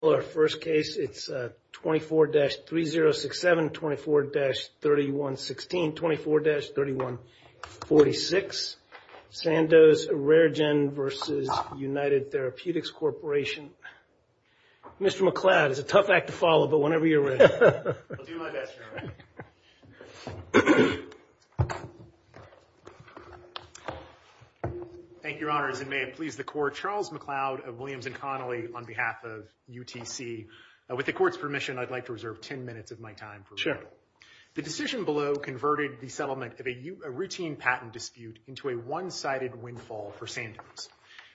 Well, our first case, it's 24-3067-24-3116-24-3146 Sandoz Rare Gen v. United Therapeutics Corporation. Mr. McLeod, it's a tough act to follow, but whenever you're ready. I'll do my best, General. Thank you, Your Honors, and may it please the Court, Charles McLeod of Williams & Connolly on behalf of UTC. With the Court's permission, I'd like to reserve 10 minutes of my time. Sure. The decision below converted the settlement of a routine patent dispute into a one-sided windfall for Sandoz.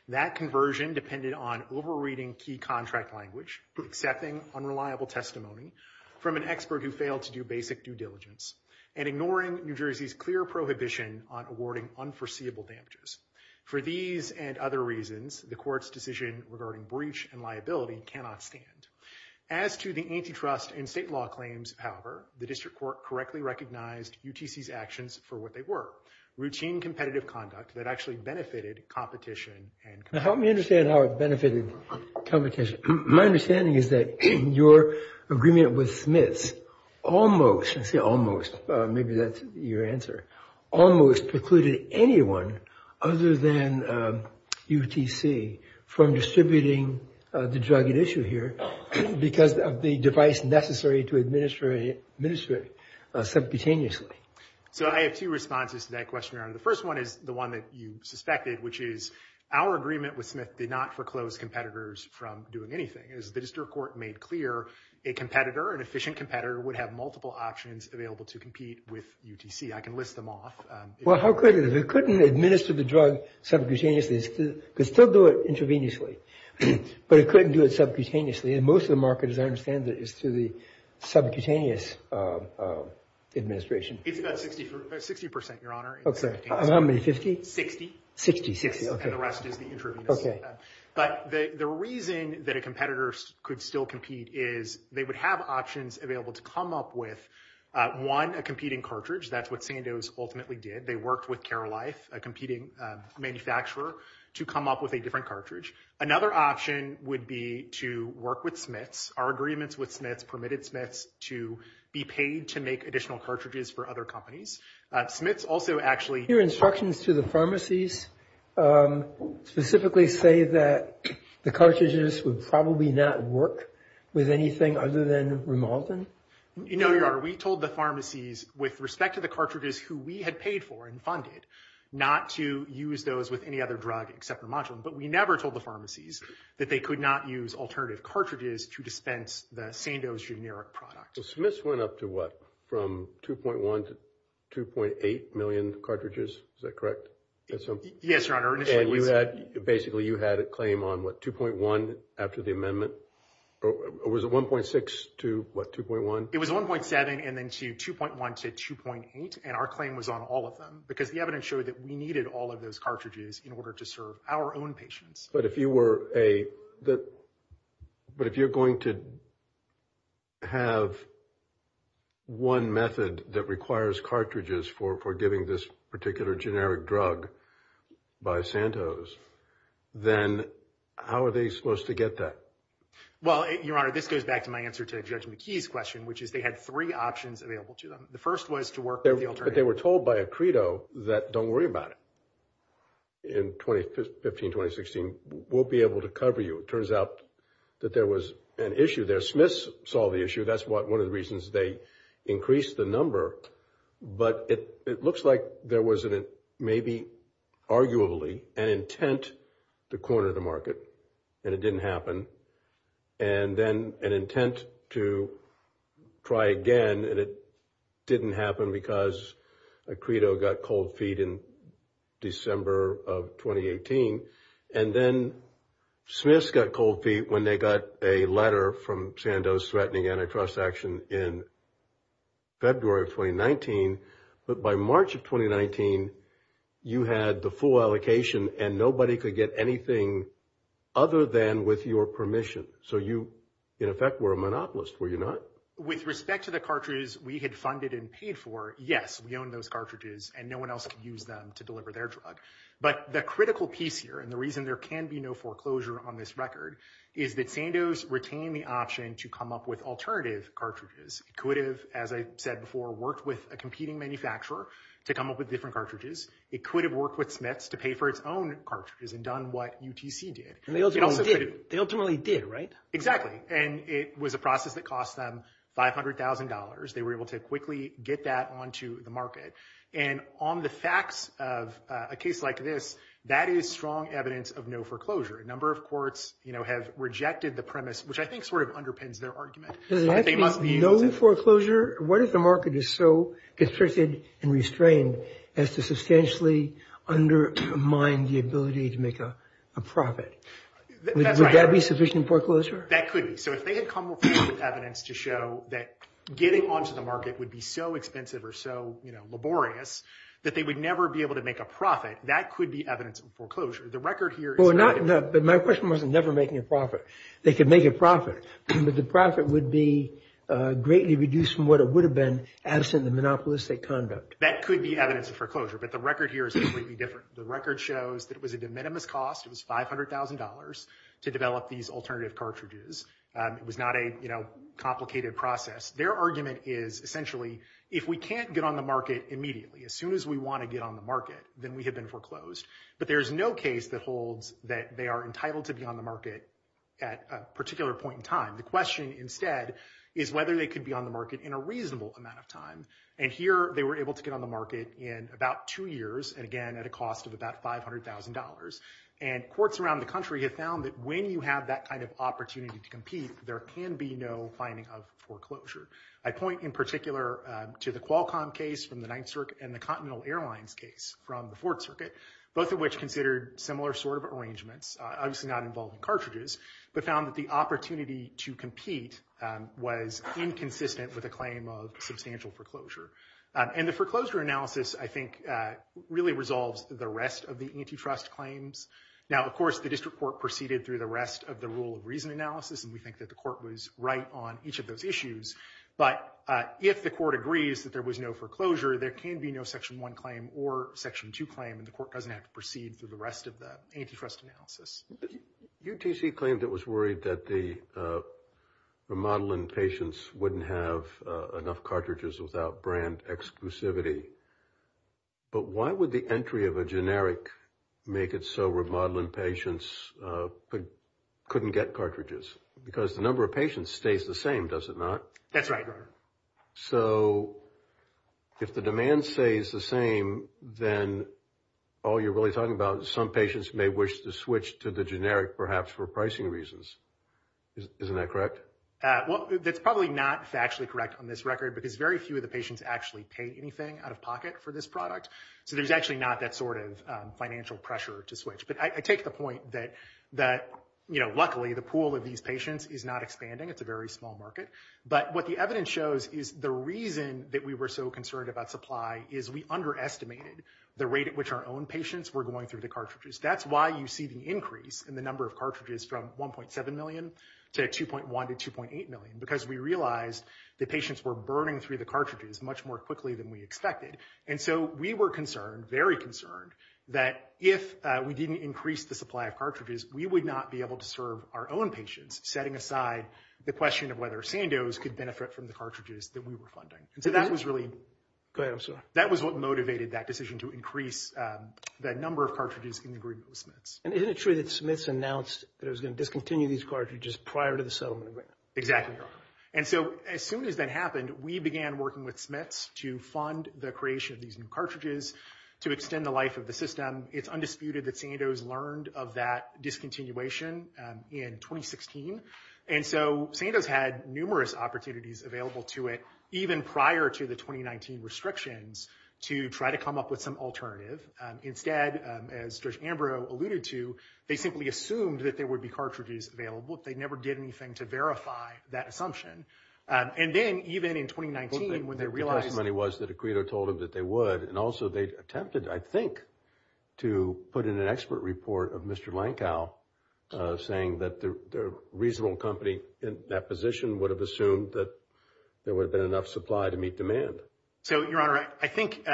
That conversion depended on over-reading key contract language, accepting unreliable testimony from an expert who failed to do basic due diligence, and ignoring New Jersey's clear prohibition on awarding unforeseeable damages. For these and other reasons, the Court's decision regarding breach and liability cannot stand. As to the antitrust and state law claims, however, the District Court correctly recognized UTC's actions for what they were, routine competitive conduct that actually benefited competition. Now help me understand how it benefited competition. My understanding is that your agreement with Smith almost, I say almost, maybe that's your answer, almost precluded anyone other than UTC from distributing the drug at issue here because of the device necessary to administer it simultaneously. So I have two responses to that question, Aaron. The first one is the one that you suspected, which is our agreement with Smith did not foreclose competitors from doing anything. As the District Court made clear, a competitor, an efficient competitor, would have multiple options available to compete with UTC. I can list them off. Well, how quick it is. It couldn't administer the drug subcutaneously. It could still do it intravenously, but it couldn't do it subcutaneously. And most of the market, as I understand it, is to the subcutaneous administration. 60%, Your Honor. Okay. How many, 50? 60. 60, okay. And the rest is the intravenous. Okay. But the reason that a competitor could still compete is they would have options available to come up with, one, a competing cartridge. That's what Sandoz ultimately did. They worked with Care Life, a competing manufacturer, to come up with a different cartridge. Another option would be to work with Smith's. Our agreements with Smith's permitted Smith's to be paid to make additional cartridges for other companies. Smith's also actually- Your instructions to the pharmacies specifically say that the cartridges would probably not work with anything other than Rimaldan? No, Your Honor. We told the pharmacies, with respect to the cartridges who we had paid for and funded, not to use those with any other drug except Rimaldan. But we never told the pharmacies that they could not use alternative cartridges to dispense the Sandoz generic product. So Smith's went up to what, from 2.1 to 2.8 million cartridges? Is that correct? Yes, Your Honor. And basically you had a claim on, what, 2.1 after the amendment? Or was it 1.6 to, what, 2.1? It was 1.7 and then to 2.1 to 2.8. And our claim was on all of them because the evidence showed that we needed all of those cartridges in order to serve our own patients. But if you're going to have one method that requires cartridges for giving this particular generic drug by Sandoz, then how are they supposed to get that? Well, Your Honor, this goes back to my answer to Judge McKee's question, which is they had three options available to them. The first was to work with the alternative. But they were told by a credo that don't worry about it. In 2015, 2016, we'll be able to cover you. It turns out that there was an issue there. Smith saw the issue. That's one of the reasons they increased the number. But it looks like there was maybe, arguably, an intent to corner the market, and it didn't happen. And then an intent to try again, and it didn't happen because a credo got cold feet in December of 2018. And then Smith got cold feet when they got a letter from Sandoz threatening antitrust action in February of 2019. But by March of 2019, you had the full allocation, and nobody could get anything other than with your permission. So you, in effect, were a monopolist, were you not? With respect to the cartridges we had funded and paid for, yes, we own those cartridges, and no one else could use them to deliver their drug. But the critical piece here, and the reason there can be no foreclosure on this record, is that Sandoz retained the option to come up with alternative cartridges. It could have, as I said before, worked with a competing manufacturer to come up with different cartridges. It could have worked with Smith to pay for its own cartridges and done what UTC did. They ultimately did, right? Exactly. And it was a process that cost them $500,000. They were able to quickly get that onto the market. And on the facts of a case like this, that is strong evidence of no foreclosure. A number of courts have rejected the premise, which I think sort of underpins their argument. Does it actually mean no foreclosure? What if the market is so restricted and restrained as to substantially undermine the ability to make a profit? Would that be sufficient foreclosure? That could be. So if they had come up with evidence to show that getting onto the market would be so expensive or so laborious that they would never be able to make a profit, that could be evidence of foreclosure. The record here is- But my question wasn't never making a profit. They could make a profit, but the profit would be greatly reduced from what it would have been absent the monopolistic conduct. That could be evidence of foreclosure, but the record here is completely different. The record shows that it was a de minimis cost. It was $500,000 to develop these alternative cartridges. It was not a complicated process. Their argument is essentially if we can't get on the market immediately, as soon as we want to get on the market, then we have been foreclosed. But there is no case that holds that they are entitled to be on the market at a particular point in time. The question instead is whether they could be on the market in a reasonable amount of time. And here they were able to get on the market in about two years, and again, at a cost of about $500,000. And courts around the country have found that when you have that kind of opportunity to compete, there can be no finding of foreclosure. I point in particular to the Qualcomm case from the Ninth Circuit and the Continental Airlines case from the Fourth Circuit, both of which considered similar sort of arrangements, obviously not involving cartridges, but found that the opportunity to compete was inconsistent with a claim of substantial foreclosure. And the foreclosure analysis, I think, really resolves the rest of the antitrust claims. Now, of course, the district court proceeded through the rest of the rule of reason analysis, and we think that the court was right on each of those issues. But if the court agrees that there was no foreclosure, there can be no Section 1 claim or Section 2 claim, and the court doesn't have to proceed through the rest of the antitrust analysis. UTC claimed it was worried that the remodeling patients wouldn't have enough cartridges without brand exclusivity. But why would the entry of a generic make it so remodeling patients couldn't get cartridges? Because the number of patients stays the same, does it not? That's right. So if the demand stays the same, then all you're really talking about is some patients may wish to switch to the generic perhaps for pricing reasons. Isn't that correct? That's probably not factually correct on this record, because very few of the patients actually pay anything out of pocket for this product. So there's actually not that sort of financial pressure to switch. But I take the point that, you know, luckily, the pool of these patients is not expanding. It's a very small market. But what the evidence shows is the reason that we were so concerned about supply is we underestimated the rate at which our own patients were going through the cartridges. That's why you see the increase in the number of cartridges from 1.7 million to 2.1 to 2.8 million, because we realized that patients were burning through the cartridges much more quickly than we expected. And so we were concerned, very concerned, that if we didn't increase the supply of cartridges, we would not be able to serve our own patients, setting aside the question of whether Sandoz could benefit from the cartridges that we were funding. Go ahead, I'm sorry. That was what motivated that decision to increase the number of cartridges in the group of Smiths. And isn't it true that Smiths announced that it was going to discontinue these cartridges prior to the settlement? Exactly. And so as soon as that happened, we began working with Smiths to fund the creation of these new cartridges to extend the life of the system. It's undisputed that Sandoz learned of that discontinuation in 2016. And so Sandoz had numerous opportunities available to it, even prior to the 2019 restrictions, to try to come up with some alternatives. Instead, as George Ambrose alluded to, they simply assumed that there would be cartridges available. They never did anything to verify that assumption. And then even in 2019, when they realized… The testimony was that a credo told them that they would. And also they attempted, I think, to put in an expert report of Mr. Lankow, saying that the reasonable company in that position would have assumed that there would have been enough supply to meet demand. So, Your Honor, I think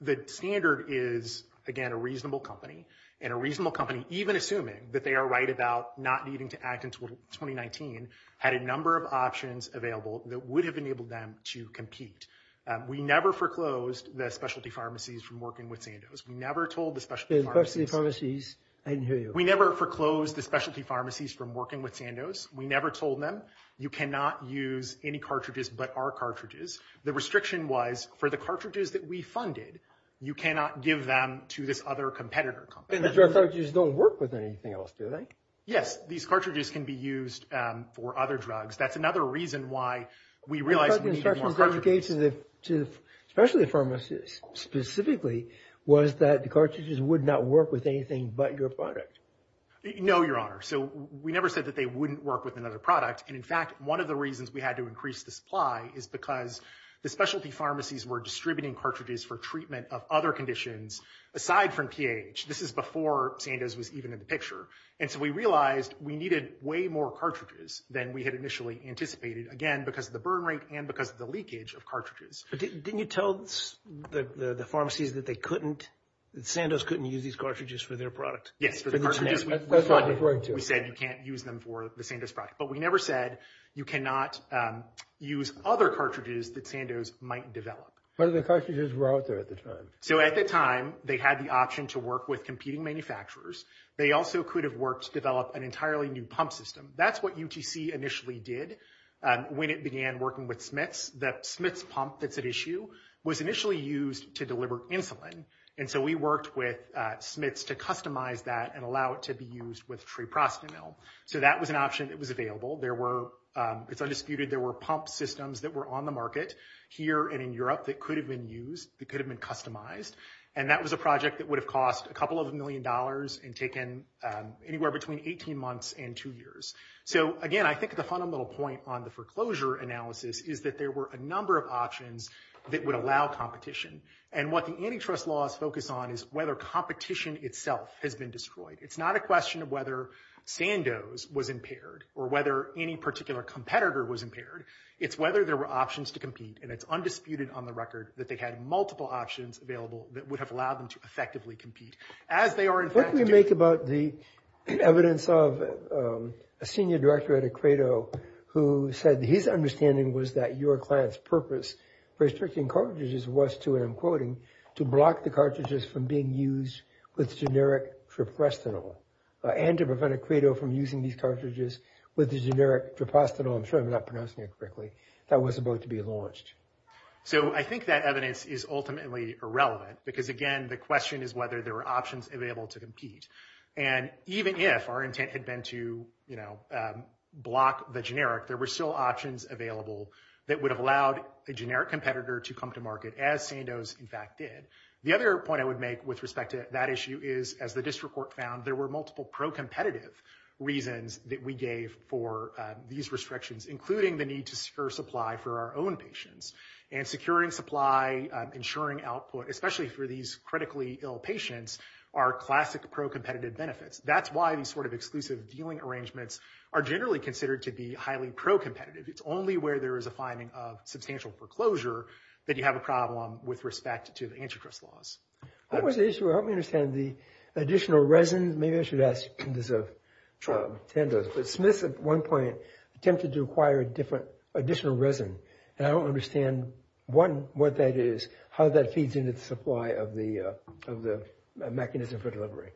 the standard is, again, a reasonable company. And a reasonable company, even assuming that they are right about not needing to act until 2019, had a number of options available that would have enabled them to compete. We never foreclosed the specialty pharmacies from working with Sandoz. We never told the specialty pharmacies… The specialty pharmacies, I didn't hear you. We never foreclosed the specialty pharmacies from working with Sandoz. We never told them, you cannot use any cartridges but our cartridges. The restriction was, for the cartridges that we funded, you cannot give them to this other competitor company. And the cartridges don't work with anything else, do they? Yes, these cartridges can be used for other drugs. That's another reason why we realized we needed more cartridges. …specialty pharmacies, specifically, was that the cartridges would not work with anything but your product. No, Your Honor. So, we never said that they wouldn't work with another product. And, in fact, one of the reasons we had to increase the supply is because the specialty pharmacies were distributing cartridges for treatment of other conditions aside from TAH. This is before Sandoz was even in the picture. And so we realized we needed way more cartridges than we had initially anticipated, again, because of the burn rate and because of the leakage of cartridges. Didn't you tell the pharmacies that they couldn't…that Sandoz couldn't use these cartridges for their product? Yes, for the cartridges. That's what I referred to. We said you can't use them for the Sandoz product. But we never said you cannot use other cartridges that Sandoz might develop. But the cartridges were out there at the time. So, at the time, they had the option to work with competing manufacturers. They also could have worked to develop an entirely new pump system. That's what UTC initially did when it began working with Smith's. The Smith's pump that's at issue was initially used to deliver insulin. And so we worked with Smith's to customize that and allow it to be used with free prostate milk. So that was an option that was available. There were, it's undisputed, there were pump systems that were on the market here and in Europe that could have been used, that could have been customized. And that was a project that would have cost a couple of million dollars and taken anywhere between 18 months and two years. So, again, I think the fundamental point on the foreclosure analysis is that there were a number of options that would allow competition. And what the antitrust laws focus on is whether competition itself has been destroyed. It's not a question of whether Sandoz was impaired or whether any particular competitor was impaired. It's whether there were options to compete. And it's undisputed on the record that they had multiple options available that would have allowed them to effectively compete. What do you make about the evidence of a senior director at EquatIO who said his understanding was that your client's purpose for restricting cartridges was to, and I'm quoting, to block the cartridges from being used with generic triprestinol and to prevent EquatIO from using these cartridges with the generic triprestinol, I'm sure I'm not pronouncing it correctly, that was about to be launched. So I think that evidence is ultimately irrelevant because, again, the question is whether there were options available to compete. And even if our intent had been to, you know, block the generic, there were still options available that would have allowed the generic competitor to come to market, as Sandoz, in fact, did. The other point I would make with respect to that issue is, as the district court found, there were multiple pro-competitive reasons that we gave for these restrictions, including the need to secure supply for our own patients. And securing supply, ensuring output, especially for these critically ill patients, are classic pro-competitive benefits. That's why these sort of exclusive dealing arrangements are generally considered to be highly pro-competitive. It's only where there is a finding of substantial foreclosure that you have a problem with respect to the antitrust laws. That was the issue. I don't understand the additional resin. Maybe I should ask Sandoz. But Smith, at one point, attempted to acquire a different additional resin. And I don't understand, one, what that is, how that feeds into the supply of the mechanism for delivery.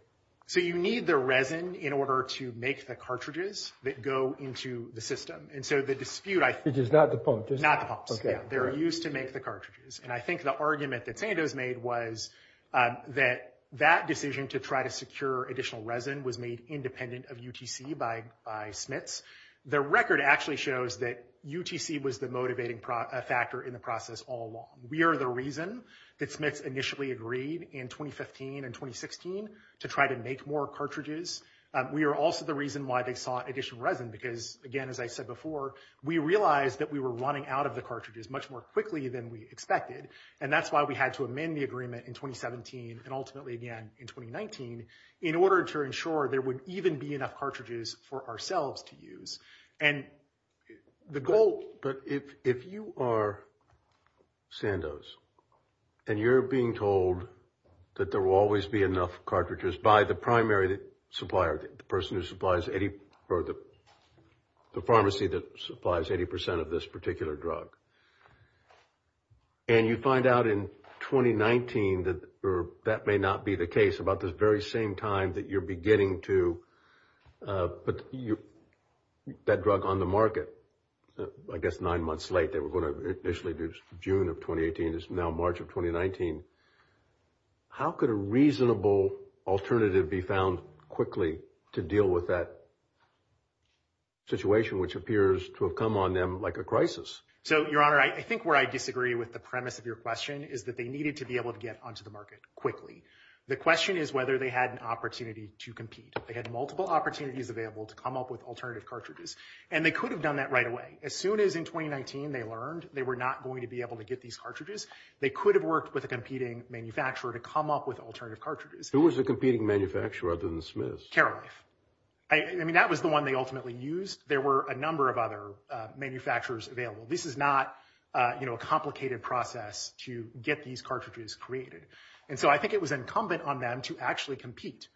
So you need the resin in order to make the cartridges that go into the system. And so the dispute I see… It is not the pump. It's not the pump. They're used to make the cartridges. And I think the argument that Sandoz made was that that decision to try to secure additional resin was made independent of UTC by Smith. The record actually shows that UTC was the motivating factor in the process all along. We are the reason that Smith initially agreed in 2015 and 2016 to try to make more cartridges. We are also the reason why they sought additional resin because, again, as I said before, we realized that we were running out of the cartridges much more quickly than we expected. And that's why we had to amend the agreement in 2017 and ultimately again in 2019 in order to ensure there would even be enough cartridges for ourselves to use. And the goal – if you are Sandoz and you're being told that there will always be enough cartridges by the primary supplier, the person who supplies – or the pharmacy that supplies 80 percent of this particular drug, and you find out in 2019 that that may not be the case about this very same time that you're beginning to put that drug on the market – I guess nine months late. They were going to initially do June of 2018. This is now March of 2019. How could a reasonable alternative be found quickly to deal with that situation, which appears to have come on them like a crisis? So, Your Honor, I think where I disagree with the premise of your question is that they needed to be able to get onto the market quickly. The question is whether they had an opportunity to compete. They had multiple opportunities available to come up with alternative cartridges, and they could have done that right away. As soon as in 2019 they learned they were not going to be able to get these cartridges, they could have worked with a competing manufacturer to come up with alternative cartridges. Who was the competing manufacturer other than Smith's? Carewife. I mean, that was the one they ultimately used. There were a number of other manufacturers available. This is not a complicated process to get these cartridges created. And so I think it was incumbent on them to actually compete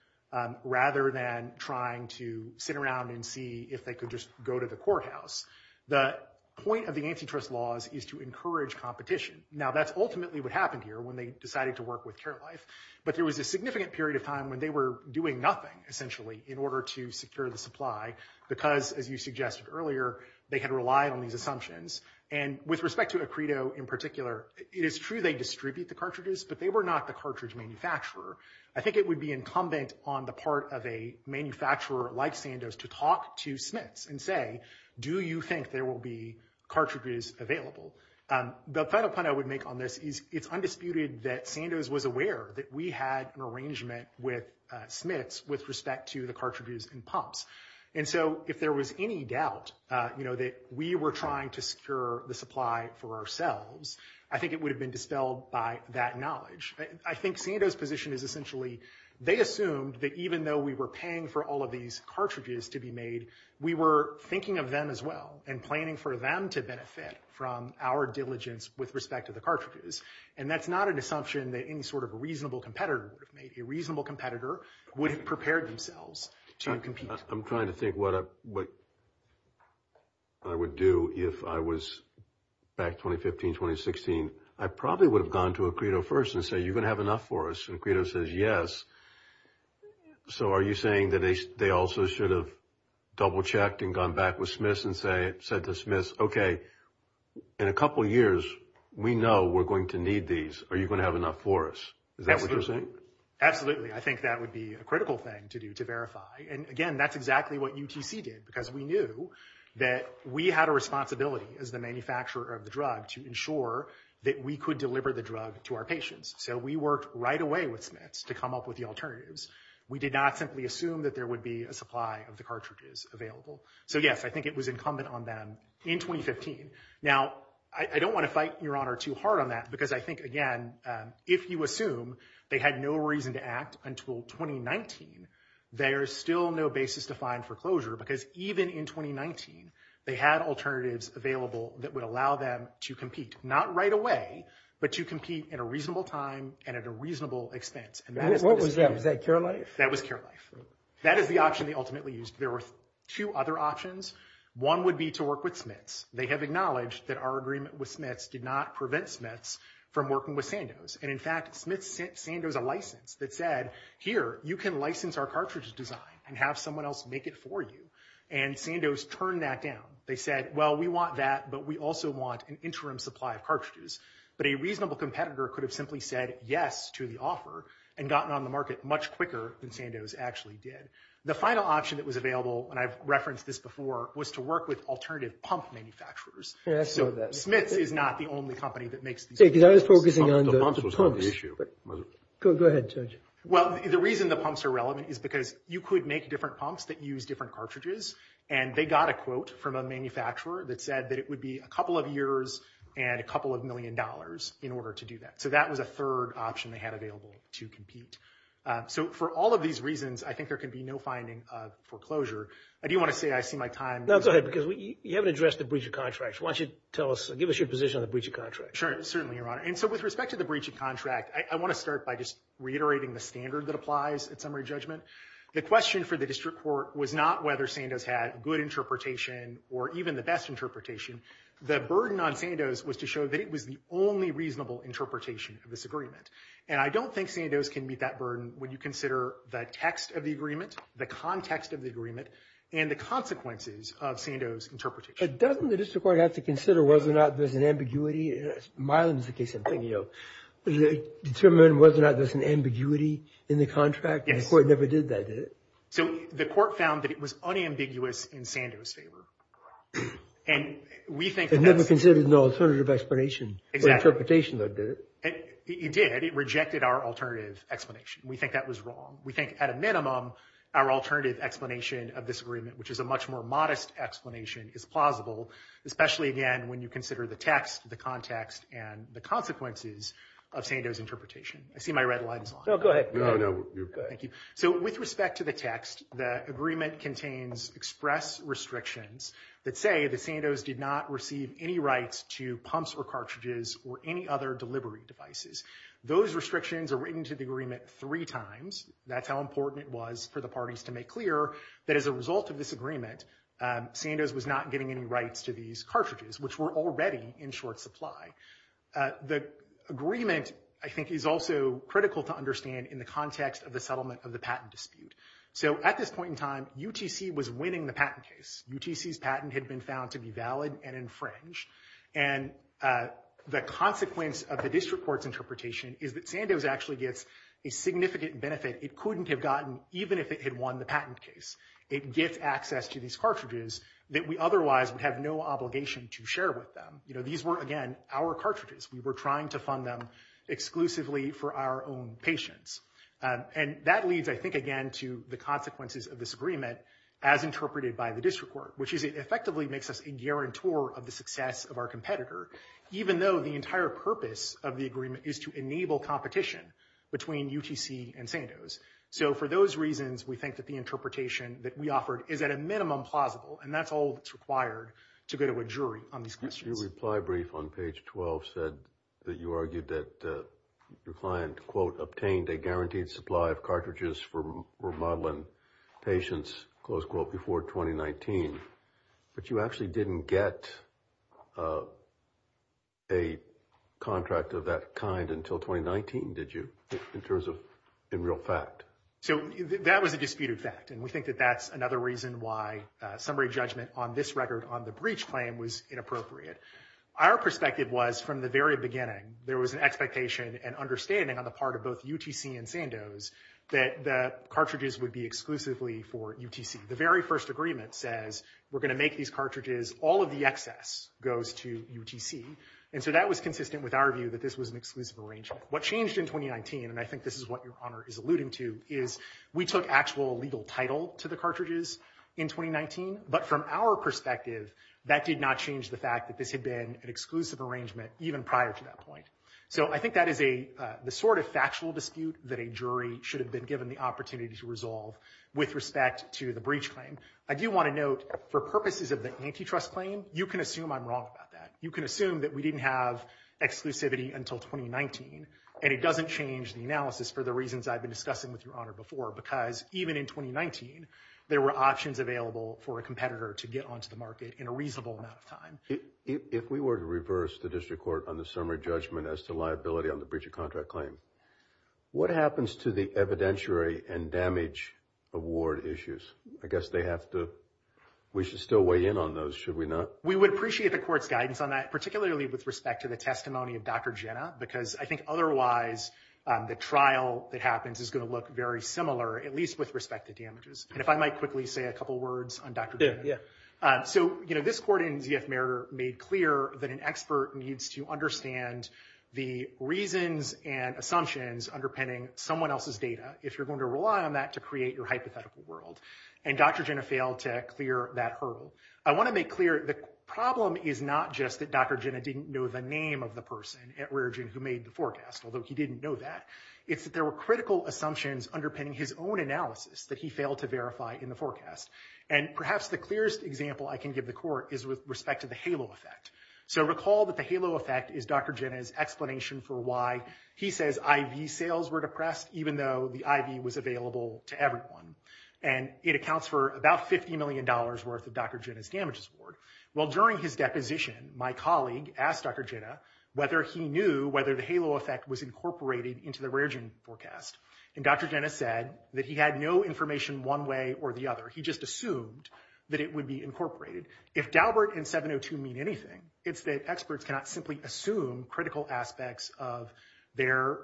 rather than trying to sit around and see if they could just go to the courthouse. The point of the antitrust laws is to encourage competition. Now, that's ultimately what happened here when they decided to work with Carewife. But there was a significant period of time when they were doing nothing, essentially, in order to secure the supply because, as you suggested earlier, they had to rely on these assumptions. And with respect to Acredo in particular, it is true they distribute the cartridges, but they were not the cartridge manufacturer. I think it would be incumbent on the part of a manufacturer like Sandoz to talk to Smith's and say, do you think there will be cartridges available? The final point I would make on this is it's undisputed that Sandoz was aware that we had an arrangement with Smith's with respect to the cartridges and pumps. And so if there was any doubt that we were trying to secure the supply for ourselves, I think it would have been dispelled by that knowledge. I think Sandoz's position is essentially they assumed that even though we were paying for all of these cartridges to be made, we were thinking of them as well and planning for them to benefit from our diligence with respect to the cartridges. And that's not an assumption that any sort of reasonable competitor would have made. A reasonable competitor would have prepared themselves. I'm trying to think what I would do if I was back 2015, 2016. I probably would have gone to Acredo first and say, you're going to have enough for us? And Acredo says, yes. So are you saying that they also should have double checked and gone back with Smith's and said to Smith's, OK, in a couple of years, we know we're going to need these. Are you going to have enough for us? Is that what you're saying? Absolutely. I think that would be a critical thing to do to verify. And again, that's exactly what UTC did, because we knew that we had a responsibility as the manufacturer of the drug to ensure that we could deliver the drug to our patients. So we worked right away with Smith's to come up with the alternatives. We did not simply assume that there would be a supply of the cartridges available. So, yes, I think it was incumbent on them in 2015. Now, I don't want to fight Your Honor too hard on that, because I think, again, if you assume they had no reason to act until 2019, there is still no basis to find foreclosure, because even in 2019, they had alternatives available that would allow them to compete, not right away, but to compete in a reasonable time and at a reasonable expense. What was that? Was that Care Life? That was Care Life. That is the option they ultimately used. There were two other options. One would be to work with Smith's. They have acknowledged that our agreement with Smith's did not prevent Smith's from working with Sandoz. And in fact, Smith's sent Sandoz a license that said, here, you can license our cartridge design and have someone else make it for you. And Sandoz turned that down. They said, well, we want that, but we also want an interim supply of cartridges. But a reasonable competitor could have simply said yes to the offer and gotten on the market much quicker than Sandoz actually did. The final option that was available, and I've referenced this before, was to work with alternative pump manufacturers. So Smith's is not the only company that makes these pumps. The reason the pumps are relevant is because you could make different pumps that use different cartridges. And they got a quote from a manufacturer that said that it would be a couple of years and a couple of million dollars in order to do that. So that was a third option they had available to compete. So for all of these reasons, I think there could be no finding of foreclosure. I do want to say I see my time. No, go ahead, because you haven't addressed the breach of contract. Why don't you tell us, give us your position on the breach of contract. Sure, certainly, Your Honor. And so with respect to the breach of contract, I want to start by just reiterating the standard that applies at summary judgment. The question for the district court was not whether Sandoz had good interpretation or even the best interpretation. The burden on Sandoz was to show that it was the only reasonable interpretation of this agreement. And I don't think Sandoz can meet that burden when you consider the text of the agreement, the context of the agreement, and the consequences of Sandoz's interpretation. Doesn't the district court have to consider whether or not there's an ambiguity? Myelin is the case I'm thinking of. Determine whether or not there's an ambiguity in the contract? The court never did that, did it? So the court found that it was unambiguous in Sandoz's favor. And we think that… It never considered an alternative explanation or interpretation, though, did it? It did. It rejected our alternative explanation. We think that was wrong. We think, at a minimum, our alternative explanation of this agreement, which is a much more modest explanation, is plausible, especially, again, when you consider the text, the context, and the consequences of Sandoz's interpretation. I see my red lines. No, go ahead. No, no, you're good. Thank you. So with respect to the text, the agreement contains express restrictions that say that Sandoz did not receive any rights to pumps or cartridges or any other delivery devices. Those restrictions are written to the agreement three times. That's how important it was for the parties to make clear that as a result of this agreement, Sandoz was not getting any rights to these cartridges, which were already in short supply. The agreement, I think, is also critical to understand in the context of the settlement of the patent dispute. So at this point in time, UTC was winning the patent case. UTC's patent had been found to be valid and infringed. And the consequence of the district court's interpretation is that Sandoz actually gets a significant benefit it couldn't have gotten even if it had won the patent case. It gets access to these cartridges that we otherwise would have no obligation to share with them. You know, these were, again, our cartridges. We were trying to fund them exclusively for our own patients. And that leads, I think, again, to the consequences of this agreement as interpreted by the district court, which is it effectively makes us a guarantor of the success of our competitor, even though the entire purpose of the agreement is to enable competition between UTC and Sandoz. So for those reasons, we think that the interpretation that we offered is at a minimum plausible. And that's all that's required to go to a jury on these questions. Your reply brief on page 12 said that you argued that your client, quote, But you actually didn't get a contract of that kind until 2019, did you, in terms of in real fact? So that was a disputed fact. And we think that that's another reason why summary judgment on this record on the breach claim was inappropriate. Our perspective was from the very beginning, there was an expectation and understanding on the part of both UTC and Sandoz that the cartridges would be exclusively for UTC. The very first agreement says we're going to make these cartridges. All of the excess goes to UTC. And so that was consistent with our view that this was an exclusive arrangement. What changed in 2019, and I think this is what your honor is alluding to, is we took actual legal title to the cartridges in 2019. But from our perspective, that did not change the fact that this had been an exclusive arrangement even prior to that point. So I think that is a sort of factual dispute that a jury should have been given the opportunity to resolve with respect to the breach claim. I do want to note for purposes of the antitrust claim, you can assume I'm wrong about that. You can assume that we didn't have exclusivity until 2019. And it doesn't change the analysis for the reasons I've been discussing with your honor before. Because even in 2019, there were options available for a competitor to get onto the market in a reasonable amount of time. If we were to reverse the district court on the summary judgment as to liability on the breach of contract claim, what happens to the evidentiary and damage award issues? I guess they have to, we should still weigh in on those, should we not? We would appreciate the court's guidance on that, particularly with respect to the testimony of Dr. Jenna. Because I think otherwise the trial that happens is going to look very similar, at least with respect to damages. And if I might quickly say a couple words on Dr. Jenna. So, you know, this court in VF Meritor made clear that an expert needs to understand the reasons and assumptions underpinning someone else's data. If you're going to rely on that to create your hypothetical world. And Dr. Jenna failed to clear that hurdle. I want to make clear the problem is not just that Dr. Jenna didn't know the name of the person at Raritan who made the forecast, although he didn't know that. It's that there were critical assumptions underpinning his own analysis that he failed to verify in the forecast. And perhaps the clearest example I can give the court is with respect to the halo effect. So recall that the halo effect is Dr. Jenna's explanation for why he says IV sales were depressed, even though the IV was available to everyone. And it accounts for about $50 million worth of Dr. Jenna's damages award. Well, during his deposition, my colleague asked Dr. Jenna whether he knew whether the halo effect was incorporated into the Raritan forecast. And Dr. Jenna said that he had no information one way or the other. He just assumed that it would be incorporated. If Daubert and 702 mean anything, it's that experts cannot simply assume critical aspects of their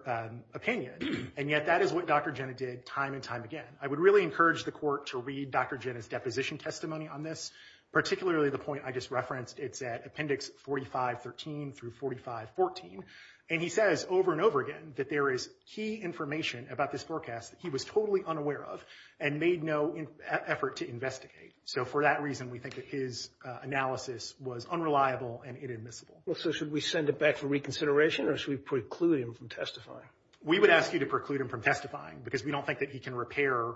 opinion. And yet that is what Dr. Jenna did time and time again. I would really encourage the court to read Dr. Jenna's deposition testimony on this, particularly the point I just referenced. It's at Appendix 4513 through 4514. And he says over and over again that there is key information about this forecast that he was totally unaware of and made no effort to investigate. So for that reason, we think that his analysis was unreliable and inadmissible. So should we send it back to reconsideration or should we preclude him from testifying? We would ask you to preclude him from testifying because we don't think that he can repair.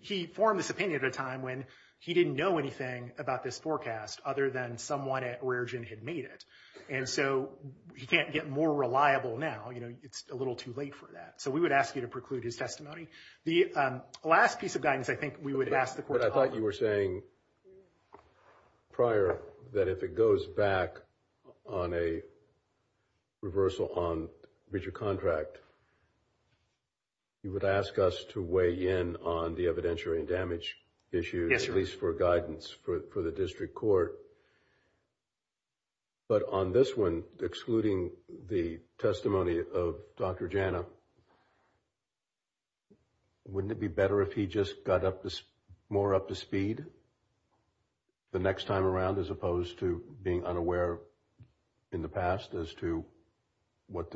He formed this opinion at a time when he didn't know anything about this forecast other than someone at Raritan had made it. And so he can't get more reliable now. You know, it's a little too late for that. So we would ask you to preclude his testimony. The last piece of guidance I think we would ask the court to offer. On this one, excluding the testimony of Dr. Jenna, wouldn't it be better if he just got more up to speed the next time around as opposed to being unaware in the past as to what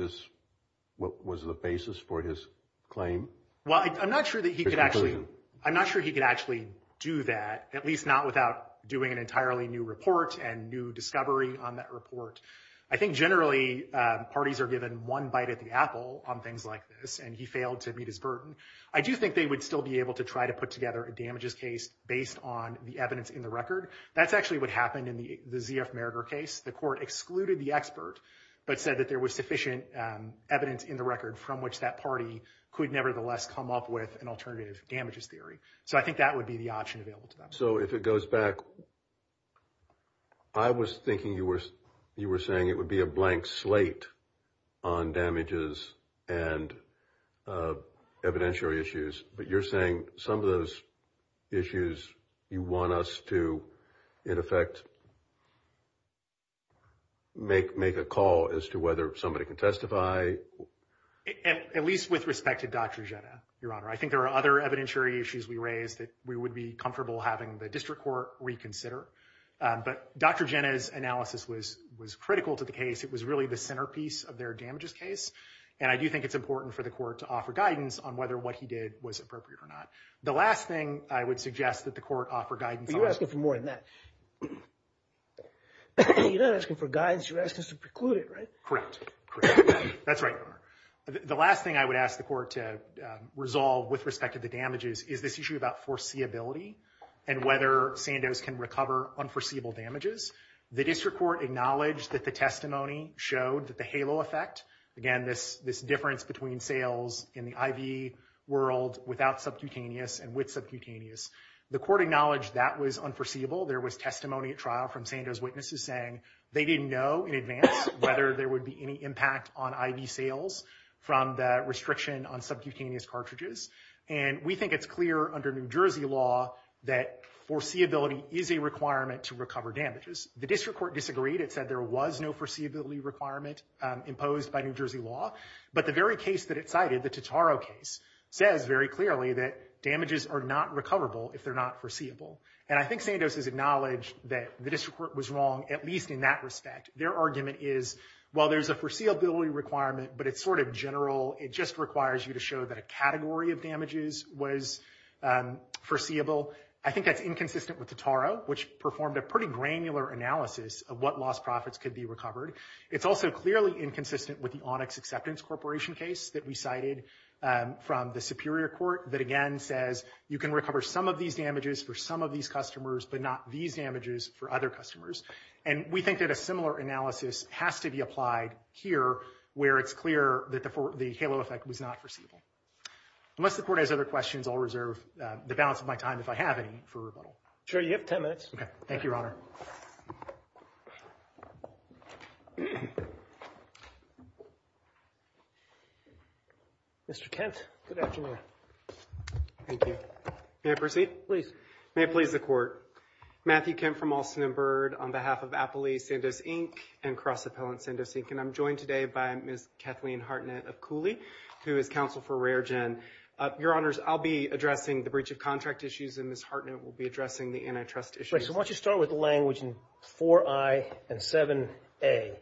was the basis for his claim? I'm not sure he could actually do that, at least not without doing an entirely new report and new discovery on that report. I think generally parties are given one bite at the apple on things like this and he failed to meet his burden. I do think they would still be able to try to put together a damages case based on the evidence in the record. That's actually what happened in the ZF Merger case. The court excluded the expert but said that there was sufficient evidence in the record from which that party could nevertheless come up with an alternative damages theory. So I think that would be the option available to them. So if it goes back, I was thinking you were saying it would be a blank slate on damages and evidentiary issues. But you're saying some of those issues you want us to, in effect, make a call as to whether somebody can testify. At least with respect to Dr. Jena, Your Honor, I think there are other evidentiary issues we raised that we would be comfortable having the district court reconsider. But Dr. Jena's analysis was critical to the case. It was really the centerpiece of their damages case. And I do think it's important for the court to offer guidance on whether what he did was appropriate or not. The last thing I would suggest that the court offer guidance. You're asking for more than that. You're not asking for guidance. You're asking us to preclude it, right? Correct. That's right. The last thing I would ask the court to resolve with respect to the damages is this issue about foreseeability and whether Sandoz can recover unforeseeable damages. The district court acknowledged that the testimony showed the halo effect. Again, this difference between sales in the IV world without subcutaneous and with subcutaneous. The court acknowledged that was unforeseeable. There was testimony at trial from Sandoz witnesses saying they didn't know in advance whether there would be any impact on IV sales from the restriction on subcutaneous cartridges. And we think it's clear under New Jersey law that foreseeability is a requirement to recover damages. The district court disagreed. It said there was no foreseeability requirement imposed by New Jersey law. But the very case that it cited, the Totaro case, says very clearly that damages are not recoverable if they're not foreseeable. And I think Sandoz has acknowledged that the district court was wrong, at least in that respect. Their argument is, while there's a foreseeability requirement, but it's sort of general, it just requires you to show that a category of damages was foreseeable. I think that's inconsistent with Totaro, which performed a pretty granular analysis of what lost profits could be recovered. It's also clearly inconsistent with the Onyx Acceptance Corporation case that we cited from the Superior Court that, again, says you can recover some of these damages for some of these customers, but not these damages for other customers. And we think that a similar analysis has to be applied here where it's clear that the halo effect was not foreseeable. Unless the court has other questions, I'll reserve the balance of my time if I have any for rebuttal. Sure, you have 10 minutes. Thank you, Your Honor. Mr. Kent, good afternoon. May I proceed? Please. May it please the Court. Matthew Kent from Alston & Byrd on behalf of Appley, Sandoz, Inc., and CrossAppel and Sandoz, Inc. And I'm joined today by Ms. Kathleen Hartnett of Cooley to counsel for Rare Gen. Your Honors, I'll be addressing the breach of contract issues and Ms. Hartnett will be addressing the antitrust issues. So why don't you start with language in 4I and 7A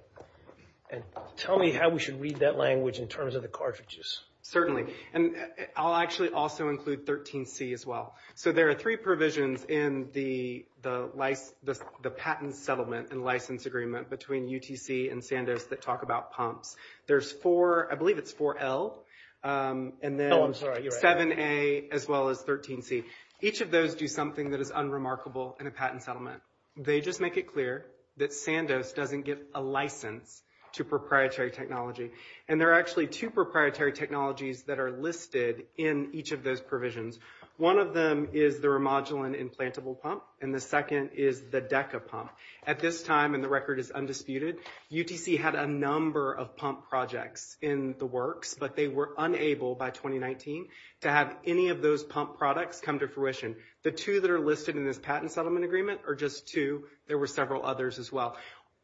and tell me how we should read that language in terms of the cartridges. Certainly. And I'll actually also include 13C as well. So there are three provisions in the patent settlement and license agreement between UTC and Sandoz that talk about pumps. There's four, I believe it's 4L and then 7A as well as 13C. Each of those do something that is unremarkable in a patent settlement. They just make it clear that Sandoz doesn't give a license to proprietary technology. And there are actually two proprietary technologies that are listed in each of those provisions. One of them is the remodeling implantable pump and the second is the DECA pump. At this time, and the record is undisputed, UTC had a number of pump projects in the works, but they were unable by 2019 to have any of those pump products come to fruition. The two that are listed in this patent settlement agreement are just two. There were several others as well.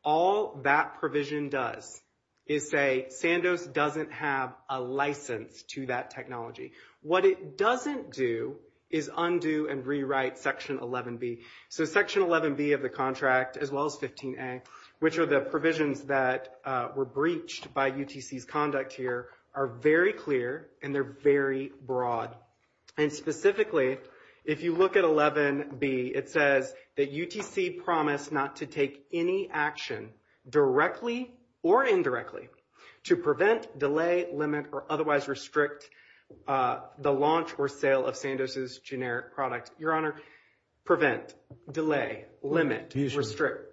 All that provision does is say Sandoz doesn't have a license to that technology. What it doesn't do is undo and rewrite Section 11B. So Section 11B of the contract as well as 15A, which are the provisions that were breached by UTC's conduct here, are very clear and they're very broad. And specifically, if you look at 11B, it says that UTC promised not to take any action, directly or indirectly, to prevent, delay, limit, or otherwise restrict the launch or sale of Sandoz's generic products. Your Honor, prevent, delay, limit, restrict.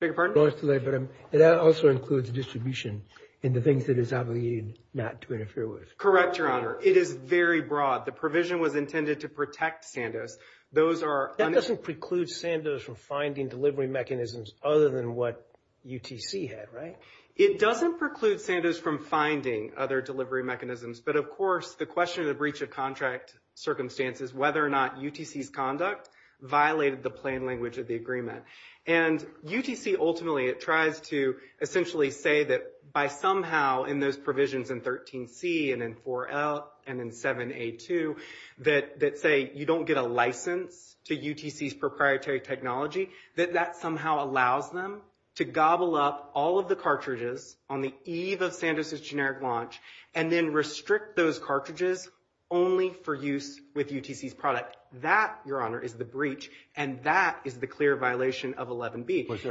Beg your pardon? It also includes distribution and the things that it's not going to need not to interfere with. Correct, Your Honor. It is very broad. The provision was intended to protect Sandoz. That doesn't preclude Sandoz from finding delivery mechanisms other than what UTC had, right? It doesn't preclude Sandoz from finding other delivery mechanisms, but of course the question of the breach of contract circumstances, whether or not UTC's conduct violated the plain language of the agreement. And UTC ultimately tries to essentially say that by somehow in those provisions in 13C and in 4L and in 7A too, that say you don't get a license to UTC's proprietary technology, that that somehow allows them to gobble up all of the cartridges on the eve of Sandoz's generic launch and then restrict those cartridges only for use with UTC's product. That, Your Honor, is the breach, and that is the clear violation of 11B. Was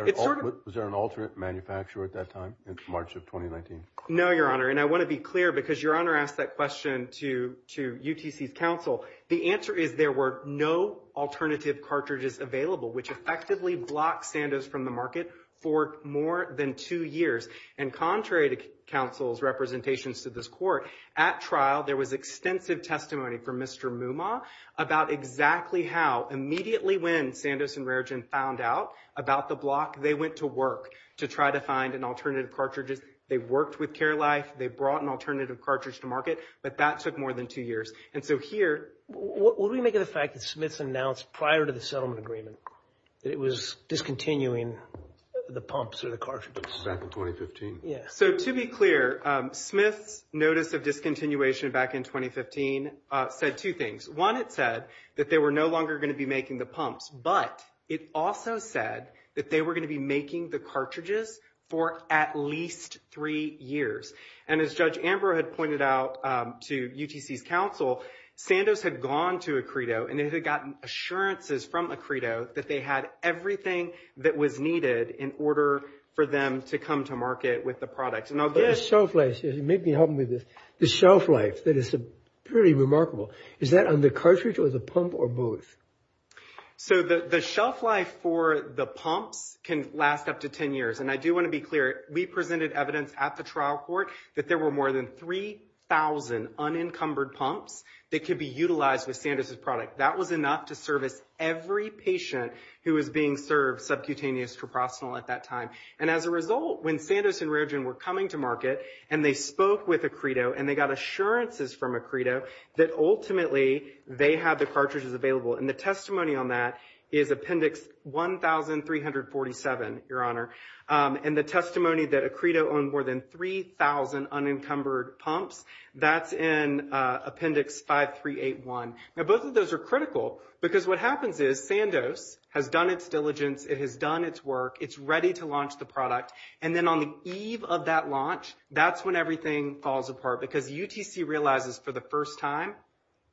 there an alternate manufacturer at that time in March of 2019? No, Your Honor, and I want to be clear because Your Honor asked that question to UTC's counsel. The answer is there were no alternative cartridges available, which effectively blocked Sandoz from the market for more than two years. And contrary to counsel's representations to this court, at trial there was extensive testimony from Mr. Mumaw about exactly how, immediately when Sandoz and Raritan found out about the block, they went to work to try to find an alternative cartridge. They worked with Care Life. They brought an alternative cartridge to market, but that took more than two years. And so here – What do we make of the fact that Smith announced prior to the settlement agreement that it was discontinuing the pumps or the cartridges? So to be clear, Smith's notice of discontinuation back in 2015 said two things. One, it said that they were no longer going to be making the pumps, but it also said that they were going to be making the cartridges for at least three years. And as Judge Amber had pointed out to UTC's counsel, Sandoz had gone to Acredo and they had gotten assurances from Acredo that they had everything that was needed in order for them to come to market with the product. And I'll get to that. The shelf life, and maybe help me with this, the shelf life, that is pretty remarkable. Is that on the cartridge or the pump or both? So the shelf life for the pump can last up to ten years, and I do want to be clear. We presented evidence at the trial court that there were more than 3,000 unencumbered pumps that could be utilized with Sandoz's product. That was enough to service every patient who was being served subcutaneous proprosanol at that time. And as a result, when Sandoz and Rogen were coming to market and they spoke with Acredo and they got assurances from Acredo that ultimately they had the cartridges available, and the testimony on that is Appendix 1347, Your Honor, and the testimony that Acredo owned more than 3,000 unencumbered pumps, that's in Appendix 5381. Now both of those are critical because what happens is Sandoz has done its diligence. It has done its work. It's ready to launch the product. And then on the eve of that launch, that's when everything falls apart because UTC realizes for the first time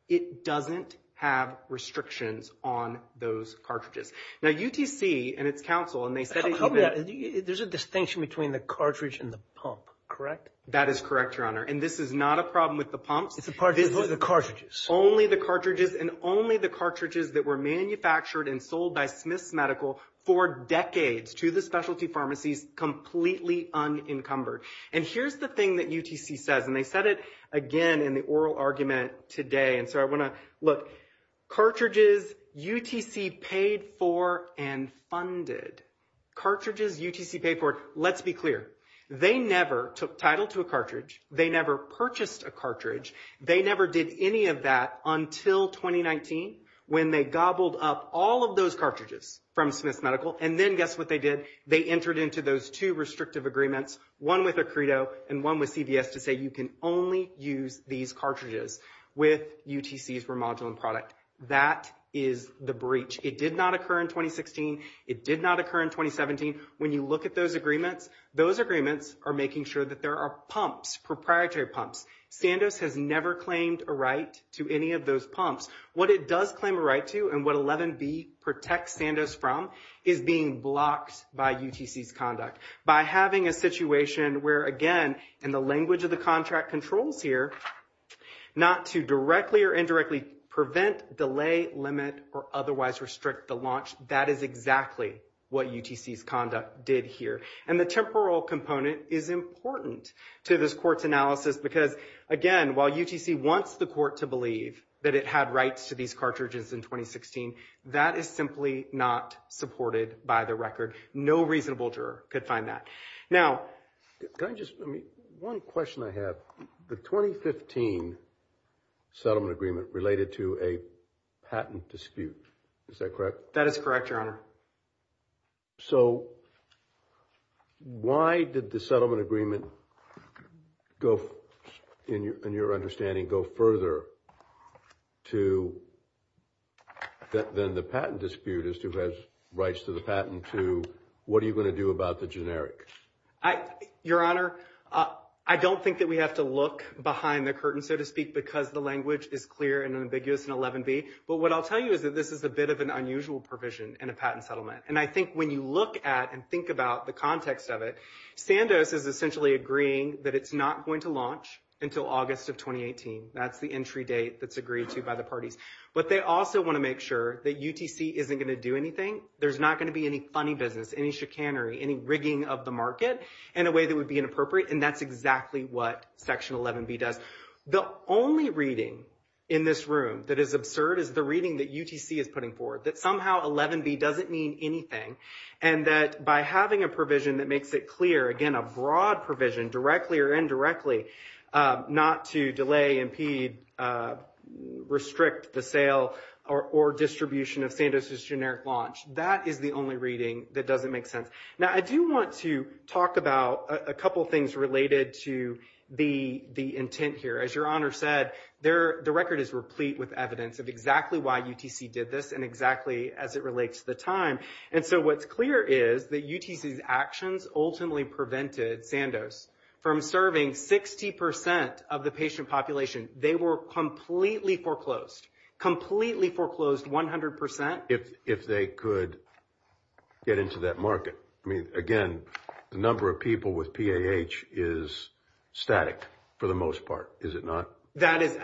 it doesn't have restrictions on those cartridges. Now UTC and its counsel, and they said it's open. There's a distinction between the cartridge and the pump, correct? That is correct, Your Honor, and this is not a problem with the pump. It's a problem with the cartridges. Only the cartridges and only the cartridges that were manufactured and sold by Smith Medical for decades to the specialty pharmacies completely unencumbered. And here's the thing that UTC says, and they said it again in the oral argument today, and so I want to look, cartridges UTC paid for and funded. Cartridges UTC paid for, let's be clear, they never took title to a cartridge. They never purchased a cartridge. They never did any of that until 2019 when they gobbled up all of those cartridges from Smith Medical, and then guess what they did? They entered into those two restrictive agreements, one with ACREDO and one with CDS, to say you can only use these cartridges with UTC's remodeling product. That is the breach. It did not occur in 2016. It did not occur in 2017. When you look at those agreements, those agreements are making sure that there are pumps, proprietary pumps. Sandoz has never claimed a right to any of those pumps. What it does claim a right to and what 11B protects Sandoz from is being blocked by UTC's conduct. By having a situation where, again, in the language of the contract controls here, not to directly or indirectly prevent, delay, limit, or otherwise restrict the launch, that is exactly what UTC's conduct did here. And the temporal component is important to this court's analysis because, again, while UTC wants the court to believe that it had rights to these cartridges in 2016, that is simply not supported by the record. No reasonable juror could find that. Now, can I just, one question I have. The 2015 settlement agreement related to a patent dispute. Is that correct? That is correct, Your Honor. So why did the settlement agreement, in your understanding, go further than the patent dispute as to who has rights to the patent to what are you going to do about the generic? Your Honor, I don't think that we have to look behind the curtain, so to speak, because the language is clear and ambiguous in 11B. But what I'll tell you is that this is a bit of an unusual provision in a patent settlement. And I think when you look at and think about the context of it, Sandoz is essentially agreeing that it's not going to launch until August of 2018. That's the entry date that's agreed to by the parties. But they also want to make sure that UTC isn't going to do anything. There's not going to be any funny business, any chicanery, any rigging of the market in a way that would be inappropriate, and that's exactly what Section 11B does. The only reading in this room that is absurd is the reading that UTC is putting forward, that somehow 11B doesn't mean anything, and that by having a provision that makes it clear, again, a broad provision, directly or indirectly, not to delay, impede, restrict the sale or distribution of Sandoz's generic launch, that is the only reading that doesn't make sense. Now, I do want to talk about a couple things related to the intent here. As Your Honor said, the record is replete with evidence of exactly why UTC did this and exactly as it relates to the time. And so what's clear is that UTC's actions ultimately prevented Sandoz from serving 60% of the patient population. They were completely foreclosed, completely foreclosed 100%. If they could get into that market. I mean, again, the number of people with PAH is static for the most part, is it not? That is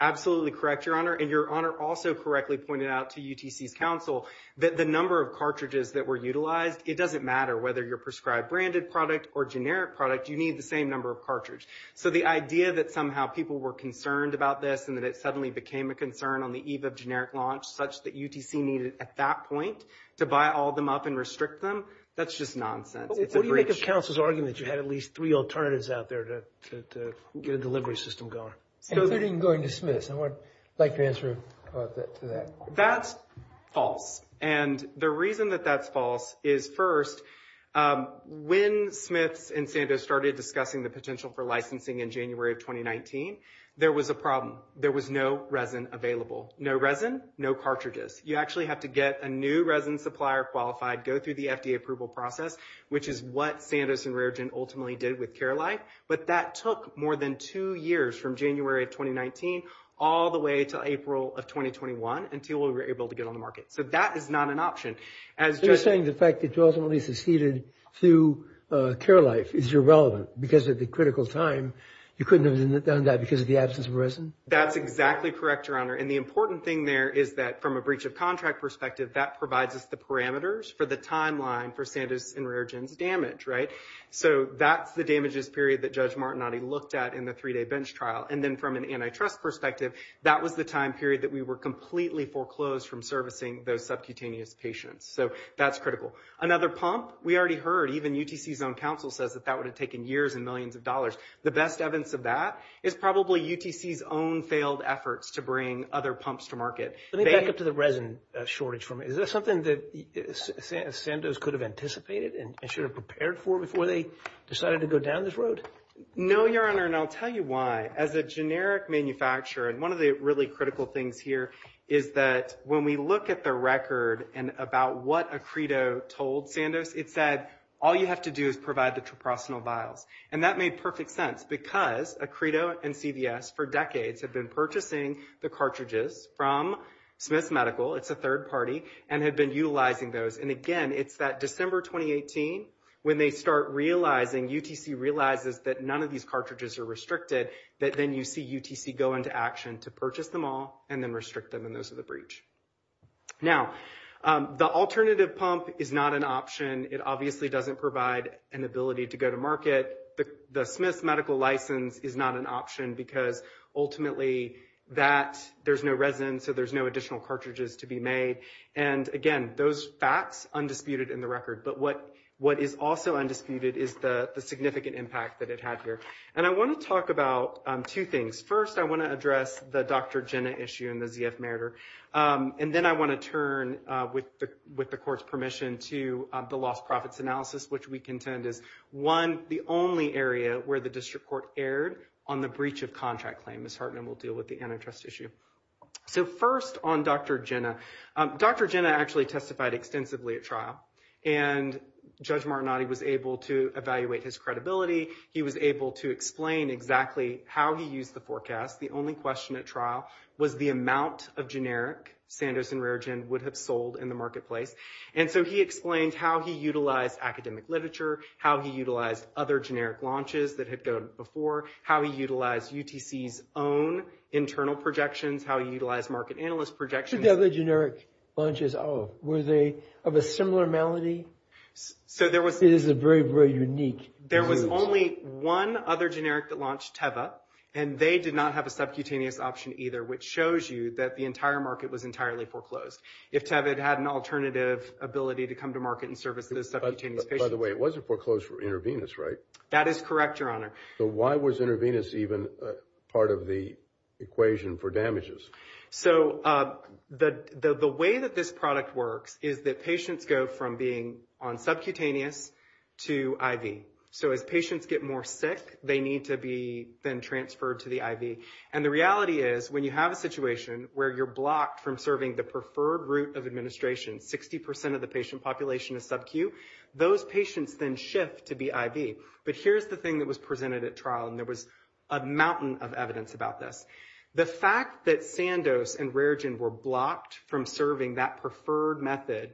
absolutely correct, Your Honor, and Your Honor also correctly pointed out to UTC's counsel that the number of cartridges that were utilized, it doesn't matter whether you're prescribed branded product or generic product, you need the same number of cartridges. So the idea that somehow people were concerned about this and that it suddenly became a concern on the eve of generic launch, such that UTC needed at that point to buy all of them up and restrict them, that's just nonsense. It's a breach. But wouldn't it be the counsel's argument that you had at least three alternatives out there to get a delivery system going? Including going to Smith's. I'd like your answer to that. That's false, and the reason that that's false is first, when Smith's and Sandoz started discussing the potential for licensing in January of 2019, there was a problem. There was no resin available. No resin, no cartridges. You actually have to get a new resin supplier qualified, go through the FDA approval process, which is what Sandoz and Raregent ultimately did with Care Life, but that took more than two years from January of 2019 all the way to April of 2021 until we were able to get on the market. So that is not an option. So you're saying the fact that you ultimately seceded to Care Life is irrelevant because of the critical time. You couldn't have done that because of the absence of resin? That's exactly correct, Your Honor, and the important thing there is that from a breach of contract perspective, that provides us the parameters for the timeline for Sandoz and Raregent's damage, right? So that's the damages period that Judge Martinotti looked at in the three-day bench trial, and then from an antitrust perspective, that was the time period that we were completely foreclosed from servicing those subcutaneous patients. So that's critical. Another pump, we already heard, even UTC's own counsel says that that would have taken years and millions of dollars. The best evidence of that is probably UTC's own failed efforts to bring other pumps to market. Let me back up to the resin shortage for a minute. Is that something that Sandoz could have anticipated and should have prepared for before they decided to go down this road? No, Your Honor, and I'll tell you why. As a generic manufacturer, and one of the really critical things here is that when we look at the record and about what Acredo told Sandoz, it said all you have to do is provide the proprosinol vials, and that made perfect sense because Acredo and CVS for decades have been purchasing the cartridges from Smith Medical, it's a third party, and have been utilizing those. And, again, it's that December 2018 when they start realizing, UTC realizes that none of these cartridges are restricted, that then you see UTC go into action to purchase them all and then restrict them, and those are the breach. Now, the alternative pump is not an option. It obviously doesn't provide an ability to go to market. The Smith Medical license is not an option because, ultimately, that, there's no resin, so there's no additional cartridges to be made. And, again, those facts, undisputed in the record. But what is also undisputed is the significant impact that it had here. And I want to talk about two things. First, I want to address the Dr. Jenna issue and the ZF Meritor, and then I want to turn, with the Court's permission, to the lost profits analysis, which we contend is, one, the only area where the district court erred on the breach of contract claim. Ms. Hartman will deal with the antitrust issue. So first on Dr. Jenna. Dr. Jenna actually testified extensively at trial, and Judge Martinotti was able to evaluate his credibility. He was able to explain exactly how he used the forecast. The only question at trial was the amount of generic Sanderson Rare Gen would have sold in the marketplace. And so he explained how he utilized academic literature, how he utilized other generic launches that had gone before, how he utilized UTC's own internal projections, how he utilized market analyst projections. Who did the other generic launches of? Were they of a similar amount? It is a very, very unique. There was only one other generic that launched, Teva, and they did not have a subcutaneous option either, which shows you that the entire market was entirely foreclosed. If Teva had had an alternative ability to come to market and serve as a subcutaneous patient. By the way, it wasn't foreclosed for intravenous, right? That is correct, Your Honor. So why was intravenous even part of the equation for damages? So the way that this product works is that patients go from being on subcutaneous to IV. So as patients get more sick, they need to be then transferred to the IV. And the reality is when you have a situation where you're blocked from serving the preferred route of administration, 60% of the patient population is subcu, those patients then shift to be IV. But here's the thing that was presented at trial, and there was a mountain of evidence about this. The fact that Sandos and RareGen were blocked from serving that preferred method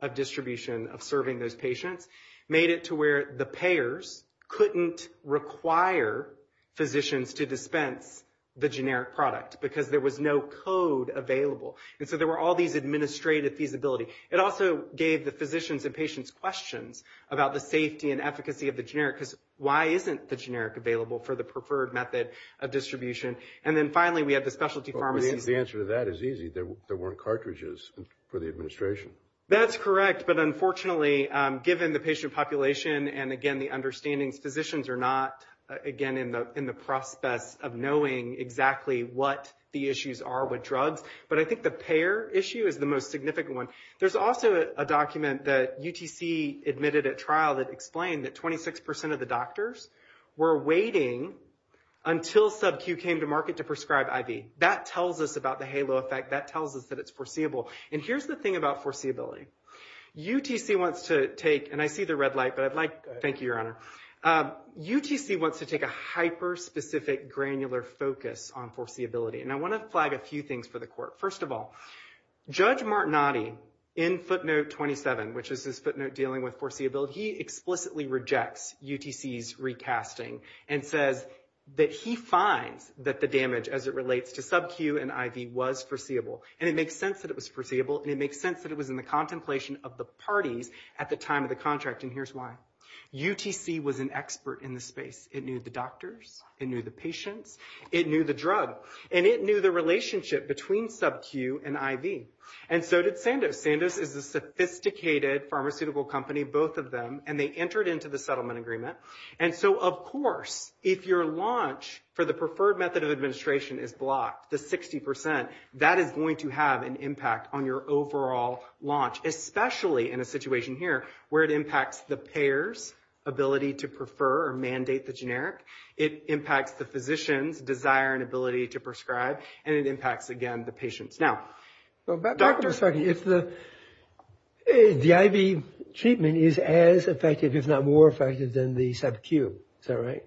of distribution of serving those patients made it to where the payers couldn't require physicians to dispense the generic product because there was no code available. And so there were all these administrative feasibility. It also gave the physicians and patients questions about the safety and efficacy of the generic because why isn't the generic available for the preferred method of distribution? And then finally we had the specialty pharmacy. The answer to that is easy. There weren't cartridges for the administration. That's correct, but unfortunately given the patient population and, again, the understanding physicians are not, again, in the process of knowing exactly what the issues are with drugs. But I think the payer issue is the most significant one. There's also a document that UTC admitted at trial that explained that 26% of the doctors were waiting until Sub-Q came to market to prescribe IV. That tells us about the halo effect. That tells us that it's foreseeable. And here's the thing about foreseeability. UTC wants to take – and I see the red light, but I'd like – thank you, Your Honor. UTC wants to take a hyper-specific granular focus on foreseeability, and I want to flag a few things for the court. First of all, Judge Martinotti in footnote 27, which is his footnote dealing with foreseeability, he explicitly rejects UTC's recasting and says that he finds that the damage as it relates to Sub-Q and IV was foreseeable, and it makes sense that it was foreseeable, and it makes sense that it was in the contemplation of the parties at the time of the contract, and here's why. UTC was an expert in the space. It knew the doctors. It knew the patients. It knew the drug. And it knew the relationship between Sub-Q and IV. And so did Sandoz. Sandoz is a sophisticated pharmaceutical company. It knew both of them, and they entered into the settlement agreement. And so, of course, if your launch for the preferred method of administration is blocked to 60%, that is going to have an impact on your overall launch, especially in a situation here where it impacts the payer's ability to prefer or mandate the generic. It impacts the physician's desire and ability to prescribe. And it impacts, again, the patient's. Doctor, if the IV treatment is as effective, if not more effective, than the Sub-Q, is that right?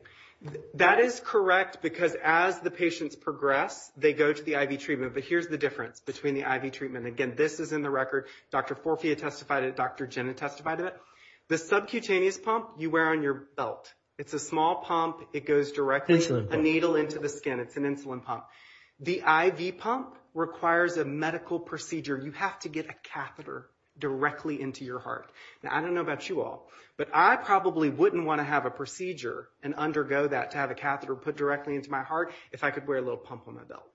That is correct, because as the patients progress, they go to the IV treatment. But here's the difference between the IV treatment. Again, this is in the record. Dr. Forfia testified of it. Dr. Ginn testified of it. The Subcutaneous pump you wear on your belt. It's a small pump. It goes directly to the needle into the skin. It's an insulin pump. The IV pump requires a medical procedure. You have to get a catheter directly into your heart. Now, I don't know about you all, but I probably wouldn't want to have a procedure and undergo that to have a catheter put directly into my heart if I could wear a little pump on my belt.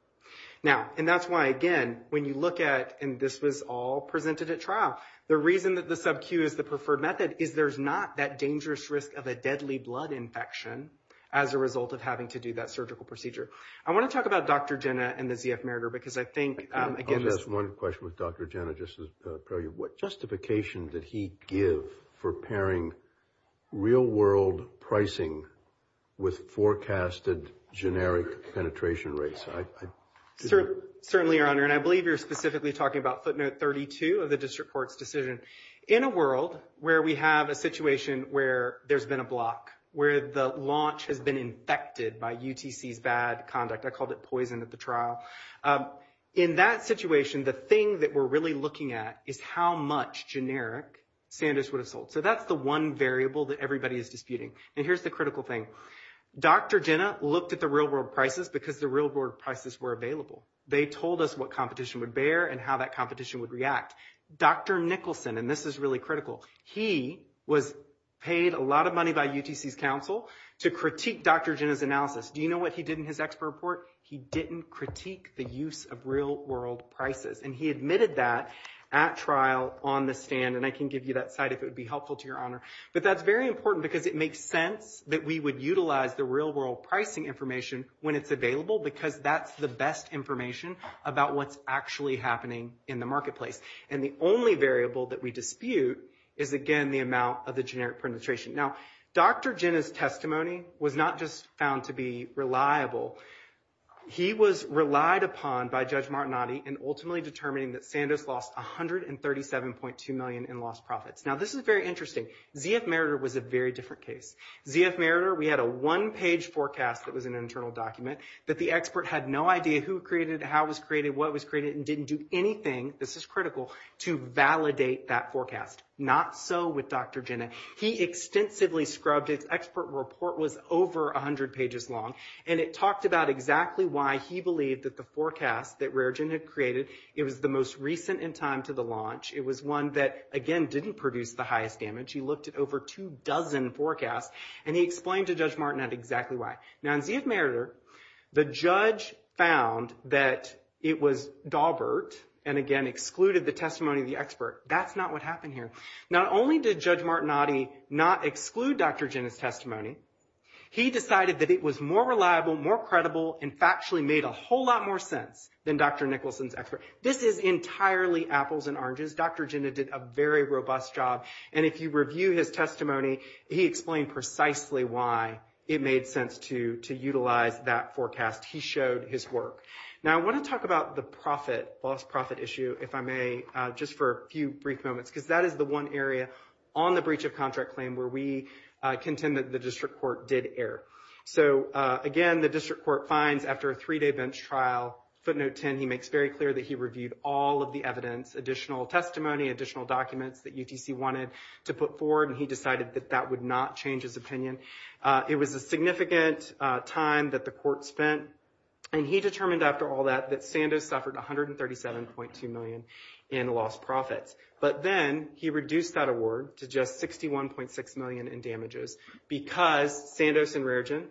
Now, and that's why, again, when you look at it, and this was all presented at trial, the reason that the Sub-Q is the preferred method is there's not that dangerous risk of a deadly blood infection as a result of having to do that surgical procedure. I want to talk about Dr. Ginn and the ZF Merger because I think, again – I'll just ask one question with Dr. Ginn. What justification did he give for pairing real-world pricing with forecasted generic penetration rates? Certainly, Your Honor, and I believe you're specifically talking about footnote 32 of the district court's decision. In a world where we have a situation where there's been a block, where the launch has been infected by UTC VAD conduct. I called it poison at the trial. In that situation, the thing that we're really looking at is how much generic Sandus would have sold. So that's the one variable that everybody is disputing. And here's the critical thing. Dr. Ginn looked at the real-world prices because the real-world prices were available. They told us what competition would bear and how that competition would react. Dr. Nicholson – and this is really critical – he was paid a lot of money by UTC's counsel to critique Dr. Ginn's analysis. Do you know what he did in his expert report? He didn't critique the use of real-world prices. And he admitted that at trial on the stand. And I can give you that site if it would be helpful to Your Honor. But that's very important because it makes sense that we would utilize the real-world pricing information when it's available because that's the best information about what's actually happening in the marketplace. And the only variable that we dispute is, again, the amount of the generic penetration. Now, Dr. Ginn's testimony was not just found to be reliable. He was relied upon by Judge Martinotti in ultimately determining that Sandus lost $137.2 million in lost profits. Now, this is very interesting. ZF Meritor was a very different case. ZF Meritor, we had a one-page forecast that was an internal document. But the expert had no idea who created it, how it was created, what was created, and didn't do anything, this is critical, to validate that forecast. Not so with Dr. Ginn. He extensively scrubbed it. His expert report was over 100 pages long. And it talked about exactly why he believed that the forecast that Rare Ginn had created, it was the most recent in time to the launch. It was one that, again, didn't produce the highest damage. He looked at over two dozen forecasts. And he explained to Judge Martinotti exactly why. Now, in ZF Meritor, the judge found that it was Dawbert and, again, excluded the testimony of the expert. That's not what happened here. Not only did Judge Martinotti not exclude Dr. Ginn's testimony, he decided that it was more reliable, more credible, and factually made a whole lot more sense than Dr. Nicholson's expert. This is entirely apples and oranges. Dr. Ginn did a very robust job. And if you review his testimony, he explained precisely why it made sense to utilize that forecast. He showed his work. Now, I want to talk about the loss-profit issue, if I may, just for a few brief moments, because that is the one area on the breach of contract claim where we contend that the district court did err. So, again, the district court finds after a three-day bench trial, footnote 10, he makes very clear that he reviewed all of the evidence, additional testimony, additional documents that UTC wanted to put forward, and he decided that that would not change his opinion. It was a significant time that the court spent. And he determined after all that that Sandoz suffered $137.2 million in lost profits. But then he reduced that award to just $61.6 million in damages because Sandoz and Rare Ginn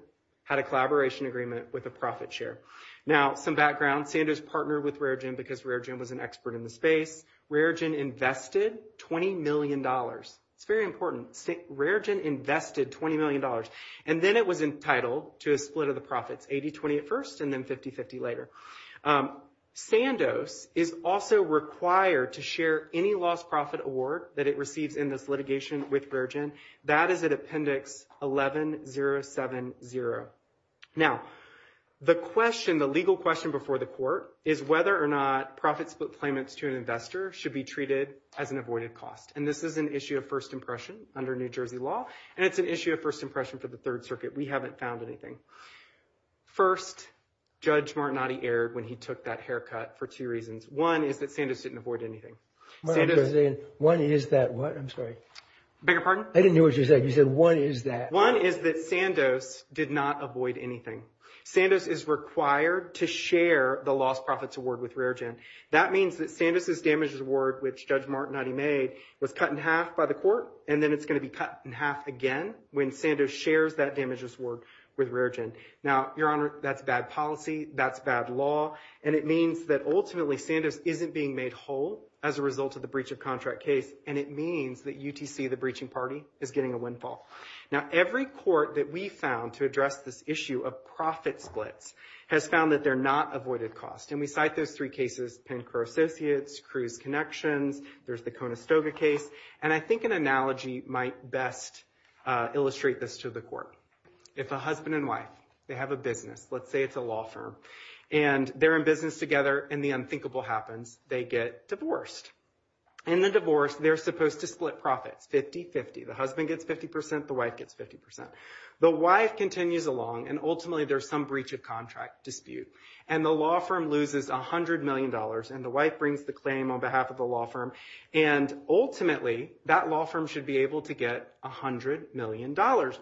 had a collaboration agreement with a profit share. Now, some background. Sandoz partnered with Rare Ginn because Rare Ginn was an expert in the space. Rare Ginn invested $20 million. It's very important. Rare Ginn invested $20 million, and then it was entitled to a split of the profits, 80-21st and then 50-50 later. Sandoz is also required to share any lost-profit award that it receives in this litigation with Rare Ginn. That is at Appendix 11-070. Now, the question, the legal question before the court is whether or not profit-split claimants to an investor should be treated as an avoided cost. And this is an issue of first impression under New Jersey law, and it's an issue of first impression for the Third Circuit. We haven't found anything. First, Judge Martinotti erred when he took that haircut for two reasons. One is that Sandoz didn't avoid anything. One is that what? I'm sorry. Beg your pardon? I didn't hear what you said. You said one is that. One is that Sandoz did not avoid anything. Sandoz is required to share the lost profits award with Rare Ginn. That means that Sandoz's damages award, which Judge Martinotti made, was cut in half by the court, and then it's going to be cut in half again when Sandoz shares that damages award with Rare Ginn. Now, Your Honor, that's bad policy. That's bad law. And it means that ultimately Sandoz isn't being made whole as a result of the breach of contract case, and it means that UTC, the breaching party, is getting a windfall. Now, every court that we've found to address this issue of profit splits has found that they're not avoided costs, and we cite those three cases, Pencro Associates, Cruz Connections. There's the Conestoga case, and I think an analogy might best illustrate this to the court. It's a husband and wife. They have a business. Let's say it's a law firm, and they're in business together, and the unthinkable happens. They get divorced. In the divorce, they're supposed to split profit 50-50. The husband gets 50%. The wife gets 50%. The wife continues along, and ultimately there's some breach of contract dispute, and the law firm loses $100 million, and the wife brings the claim on behalf of the law firm, and ultimately that law firm should be able to get $100 million.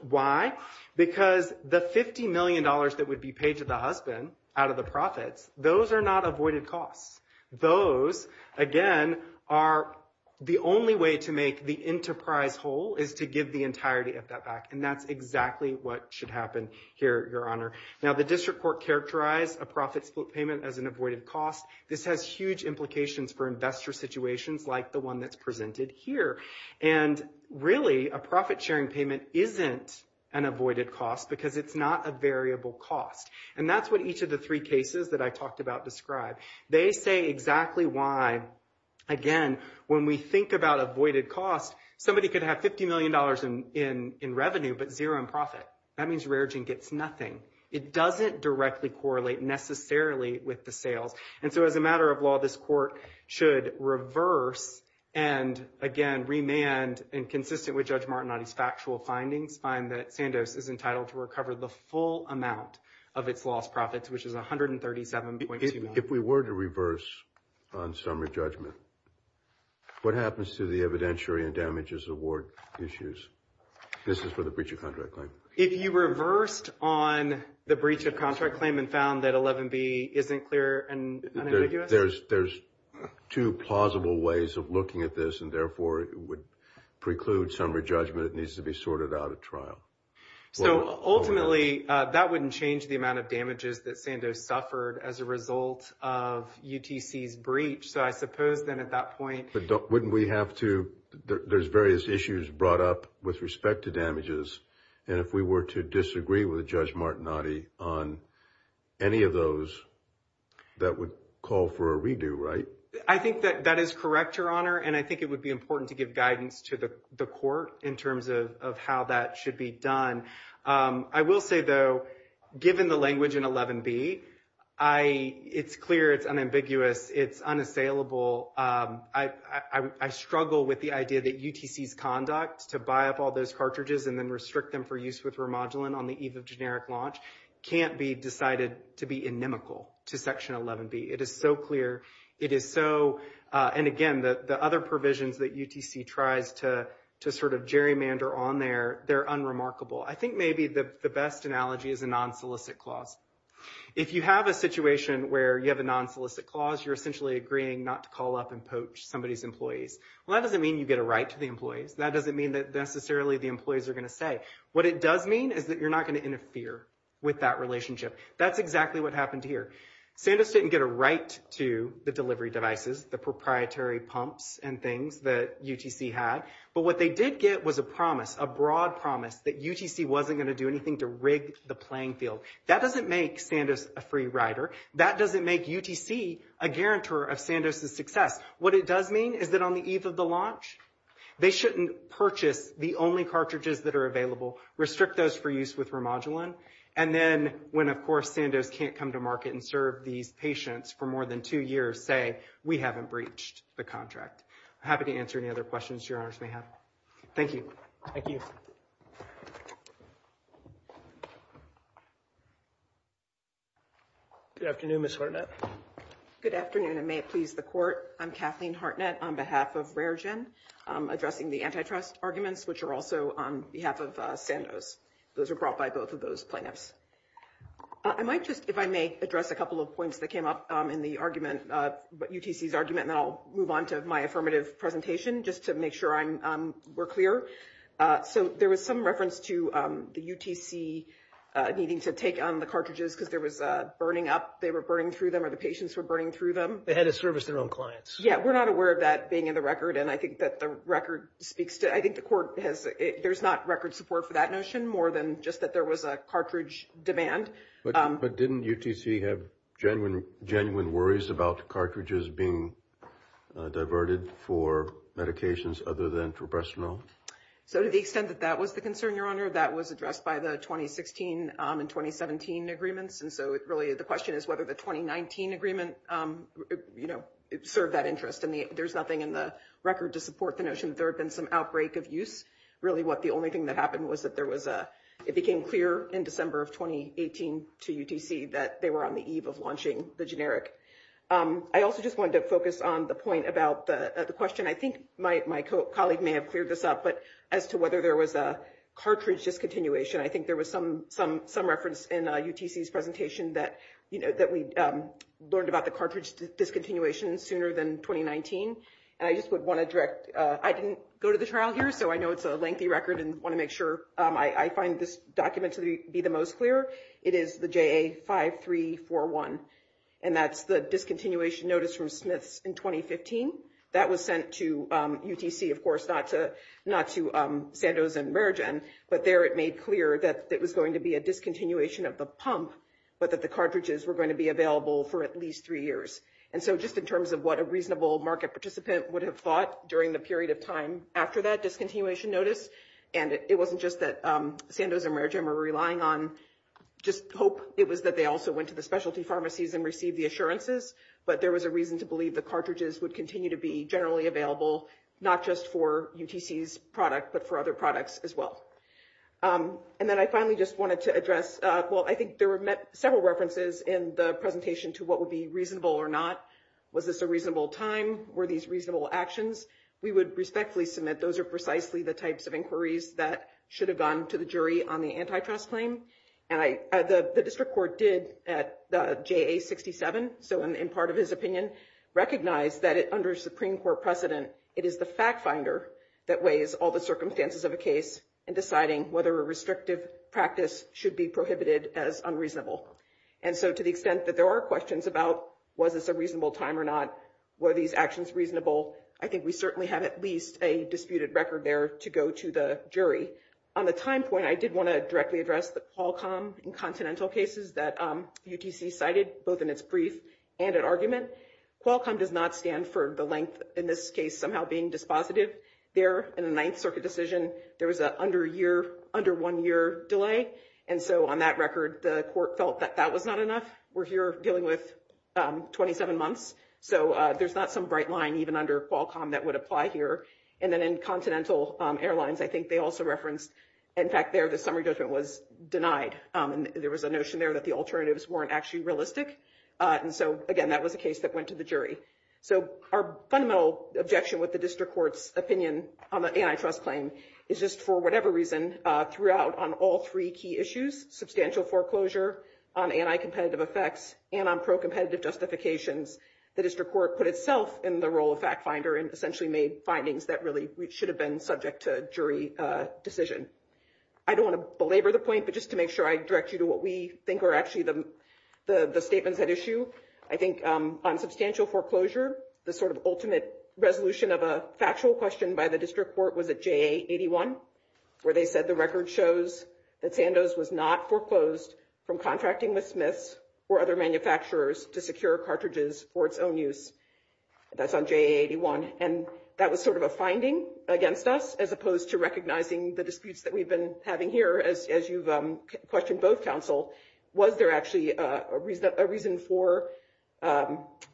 Why? Because the $50 million that would be paid to the husband out of the profit, those are not avoided costs. Those, again, are the only way to make the enterprise whole is to give the entirety of that back, and that's exactly what should happen here, Your Honor. Now, the district court characterized a profit split payment as an avoided cost. This has huge implications for investor situations like the one that's presented here, and really a profit-sharing payment isn't an avoided cost because it's not a variable cost, and that's what each of the three cases that I talked about described. They say exactly why, again, when we think about avoided costs, somebody could have $50 million in revenue but zero in profit. That means Raritan gets nothing. It doesn't directly correlate necessarily with the sale, and so as a matter of law, this court should reverse and, again, remand, and consistent with Judge Martin on his factual findings, we find that Sandoz is entitled to recover the full amount of its lost profits, which is $137.21. If we were to reverse on summary judgment, what happens to the evidentiary and damages award issues? This is for the breach of contract claim. If you reversed on the breach of contract claim and found that 11B isn't clear and unambiguous? There's two plausible ways of looking at this, and, therefore, it would preclude summary judgment. It needs to be sorted out at trial. Ultimately, that wouldn't change the amount of damages that Sandoz suffered as a result of UTC's breach, so I suppose then at that point – Wouldn't we have to – there's various issues brought up with respect to damages, and if we were to disagree with Judge Martinotti on any of those, that would call for a redo, right? I think that that is correct, Your Honor, and I think it would be important to give guidance to the court in terms of how that should be done. I will say, though, given the language in 11B, it's clear, it's unambiguous, it's unassailable. I struggle with the idea that UTC's conduct to buy up all those cartridges and then restrict them for use with remodeling on the eve of generic launch can't be decided to be inimical to Section 11B. It is so clear. It is so – and, again, the other provisions that UTC tries to sort of gerrymander on there, they're unremarkable. I think maybe the best analogy is a non-solicit clause. If you have a situation where you have a non-solicit clause, you're essentially agreeing not to call up and poach somebody's employees. Well, that doesn't mean you get a right to the employees. That doesn't mean that necessarily the employees are going to stay. What it does mean is that you're not going to interfere with that relationship. That's exactly what happened here. Sandoz didn't get a right to the delivery devices, the proprietary pumps and things that UTC had. But what they did get was a promise, a broad promise, that UTC wasn't going to do anything to rig the playing field. That doesn't make Sandoz a free rider. That doesn't make UTC a guarantor of Sandoz's success. What it does mean is that on the eve of the launch, they shouldn't purchase the only cartridges that are available, restrict those for use with remodeling, and then when, of course, Sandoz can't come to market and serve these patients for more than two years, say, we haven't breached the contract. I'm happy to answer any other questions your Honor may have. Thank you. Thank you. Good afternoon, Ms. Hartnett. Good afternoon, and may it please the Court, I'm Kathleen Hartnett on behalf of RareGen, addressing the antitrust arguments, which are also on behalf of Sandoz. Those are brought by both of those plaintiffs. I might just, if I may, address a couple of points that came up in the argument, UTC's argument, and I'll move on to my affirmative presentation just to make sure we're clear. So there was some reference to the UTC needing to take on the cartridges because they were burning through them or the patients were burning through them. They had to service their own clients. Yeah, we're not aware of that being in the record, and I think that the record speaks to it. There's not record support for that notion, more than just that there was a cartridge demand. But didn't UTC have genuine worries about cartridges being diverted for medications other than for breast milk? So to the extent that that was the concern, your Honor, that was addressed by the 2016 and 2017 agreements, and so it really is a question of whether the 2019 agreement served that interest. There's nothing in the record to support the notion that there had been some outbreak of use. Really the only thing that happened was that it became clear in December of 2018 to UTC that they were on the eve of launching the generic. I also just wanted to focus on the point about the question. I think my colleague may have cleared this up, but as to whether there was a cartridge discontinuation, I think there was some reference in UTC's presentation that we learned about the cartridge discontinuation sooner than 2019. I didn't go to the trial here, so I know it's a lengthy record and want to make sure I find this document to be the most clear. It is the JA5341, and that's the discontinuation notice from Smith in 2015. That was sent to UTC, of course, not to Sandoz and Mergen, but there it made clear that it was going to be a discontinuation of the pump, but that the cartridges were going to be available for at least three years. Just in terms of what a reasonable market participant would have thought during the period of time after that discontinuation notice, and it wasn't just that Sandoz and Mergen were relying on just hope. It was that they also went to the specialty pharmacies and received the assurances, but there was a reason to believe the cartridges would continue to be generally available, not just for UTC's product, but for other products as well. Then I finally just wanted to address, well, I think there were several references in the presentation to what would be reasonable or not. Was this a reasonable time? Were these reasonable actions? We would respectfully submit those are precisely the types of inquiries that should have gone to the jury on the antitrust claim. The district court did at the JA67, so in part of his opinion, recognize that under Supreme Court precedent, it is the fact finder that weighs all the circumstances of a case in deciding whether a restrictive practice should be prohibited as unreasonable. And so to the extent that there are questions about was this a reasonable time or not, were these actions reasonable, I think we certainly have at least a disputed record there to go to the jury. On the time point, I did want to directly address Qualcomm in continental cases that UTC cited, both in its brief and in argument. Qualcomm does not stand for the length, in this case, somehow being dispositive. There, in the Ninth Circuit decision, there was an under one year delay, and so on that record, the court felt that that was not enough. We're here dealing with 27 months, so there's not some bright line even under Qualcomm that would apply here. And then in continental airlines, I think they also referenced, in fact, there the summary judgment was denied. There was a notion there that the alternatives weren't actually realistic. And so, again, that was a case that went to the jury. So our fundamental objection with the district court's opinion on the antitrust claim is just for whatever reason, throughout on all three key issues, substantial foreclosure, anti-competitive effects, and on pro-competitive justifications, the district court put itself in the role of fact finder and essentially made findings that really should have been subject to jury decision. I don't want to belabor the point, but just to make sure I direct you to what we think are actually the statements at issue, I think on substantial foreclosure, the sort of ultimate resolution of a factual question by the district court was at JA81 where they said the record shows that Sandoz was not foreclosed from contracting with Smith or other manufacturers to secure cartridges for its own use. That's on JA81. And that was sort of a finding against us as opposed to recognizing the disputes that we've been having here as you've questioned both counsel. Was there actually a reason for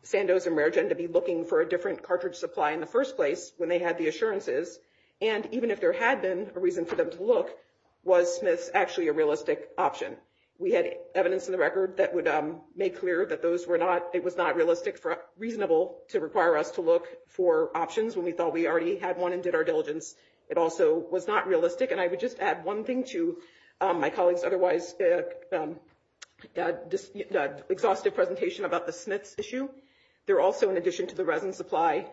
Sandoz and Mergen to be looking for a different cartridge supply in the first place when they had the assurances? And even if there had been a reason for them to look, was Smith actually a realistic option? We had evidence in the record that made clear that it was not realistic or reasonable to require us to look for options when we thought we already had one and did our diligence. It also was not realistic. And I would just add one thing to my colleague's otherwise exhaustive presentation about the Smith issue. There also, in addition to the resin supply,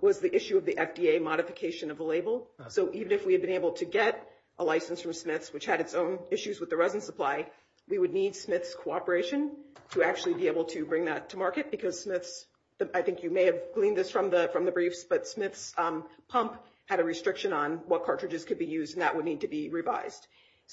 was the issue of the FDA modification of the label. So even if we had been able to get a license from Smith, which had its own issues with the resin supply, we would need Smith's cooperation to actually be able to bring that to market because Smith's – I think you may have gleaned this from the briefs – but Smith's pump had a restriction on what cartridges could be used, and that would need to be revised.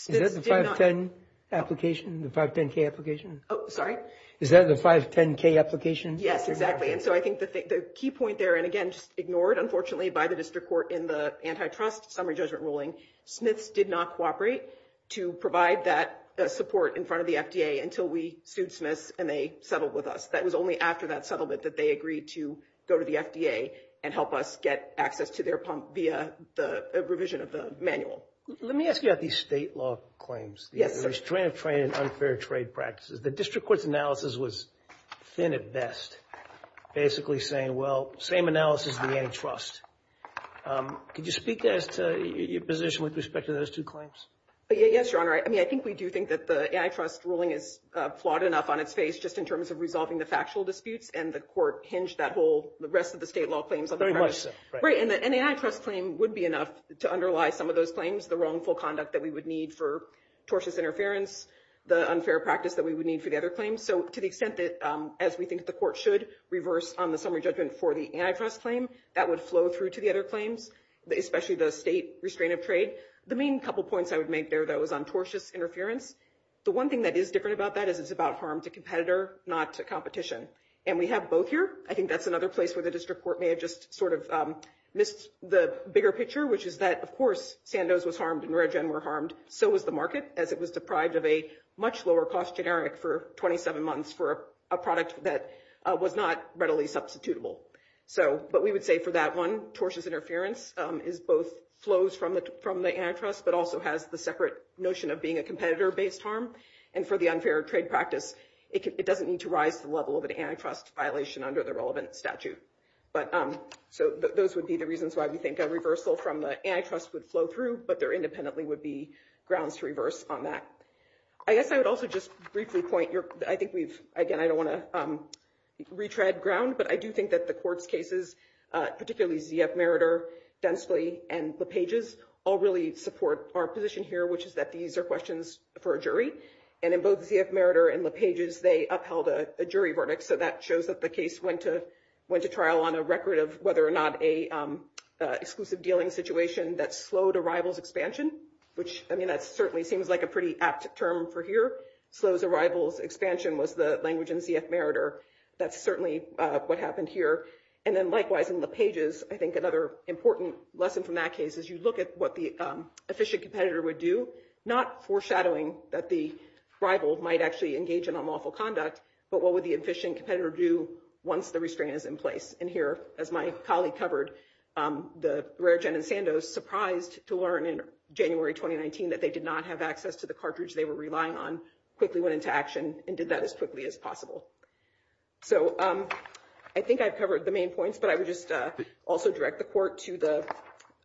Is that the 510 application, the 510K application? Oh, sorry? Is that the 510K application? Yes, exactly. And so I think the key point there – and, again, ignored, unfortunately, by the district court in the antitrust summary judgment ruling – Smith's did not cooperate to provide that support in front of the FDA until we sued Smith and they settled with us. That was only after that settlement that they agreed to go to the FDA and help us get access to their pump via the revision of the manual. Let me ask you about these state law claims. There's transparent and unfair trade practices. The district court's analysis was thin at best, basically saying, well, same analysis in antitrust. Could you speak to your position with respect to those two claims? Yes, Your Honor. I mean, I think we do think that the antitrust ruling is flawed enough on its face just in terms of resolving the factual disputes, and the court hinged that whole – the rest of the state law claims on the part of – Very much so. Right, and the antitrust claim would be enough to underlie some of those claims, the wrongful conduct that we would need for tortious interference, the unfair practice that we would need for the other claims. So to the extent that, as we think the court should, reverse on the summary judgment for the antitrust claim, that would flow through to the other claims, especially the state restraint of trade. The main couple points I would make there, though, is on tortious interference. The one thing that is different about that is it's about harm to competitor, not to competition. And we have both here. I think that's another place where the district court may have just sort of missed the bigger picture, which is that, of course, Sandoz was harmed and Redgen were harmed. So was the market, as it was deprived of a much lower-cost generic for 27 months for a product that was not readily substitutable. But we would say for that one, tortious interference both flows from the antitrust but also has the separate notion of being a competitor-based harm. And for the unfair trade practice, it doesn't need to rise to the level of an antitrust violation under the relevant statute. So those would be the reasons why we think a reversal from the antitrust would flow through, but there independently would be grounds to reverse on that. I guess I would also just briefly point, I think we've, again, I don't want to retread ground, but I do think that the court's cases, particularly Z.F. Meritor, Densley, and LePage's, all really support our position here, which is that these are questions for a jury. And in both Z.F. Meritor and LePage's, they upheld a jury verdict. So that shows that the case went to trial on a record of whether or not a exclusive dealing situation that slowed a rival's expansion, which, I mean, that certainly seems like a pretty apt term for here. Slows a rival's expansion was the language in Z.F. Meritor. That's certainly what happened here. And then likewise in LePage's, I think another important lesson from that case is you look at what the efficient competitor would do, not foreshadowing that the rival might actually engage in unlawful conduct, but what would the efficient competitor do once the restraint is in place? And here, as my colleague covered, the rare gen in Sandoz, surprised to learn in January 2019 that they did not have access to the cartridge they were relying on, quickly went into action and did that as quickly as possible. So I think I've covered the main points, but I would just also direct the court to the,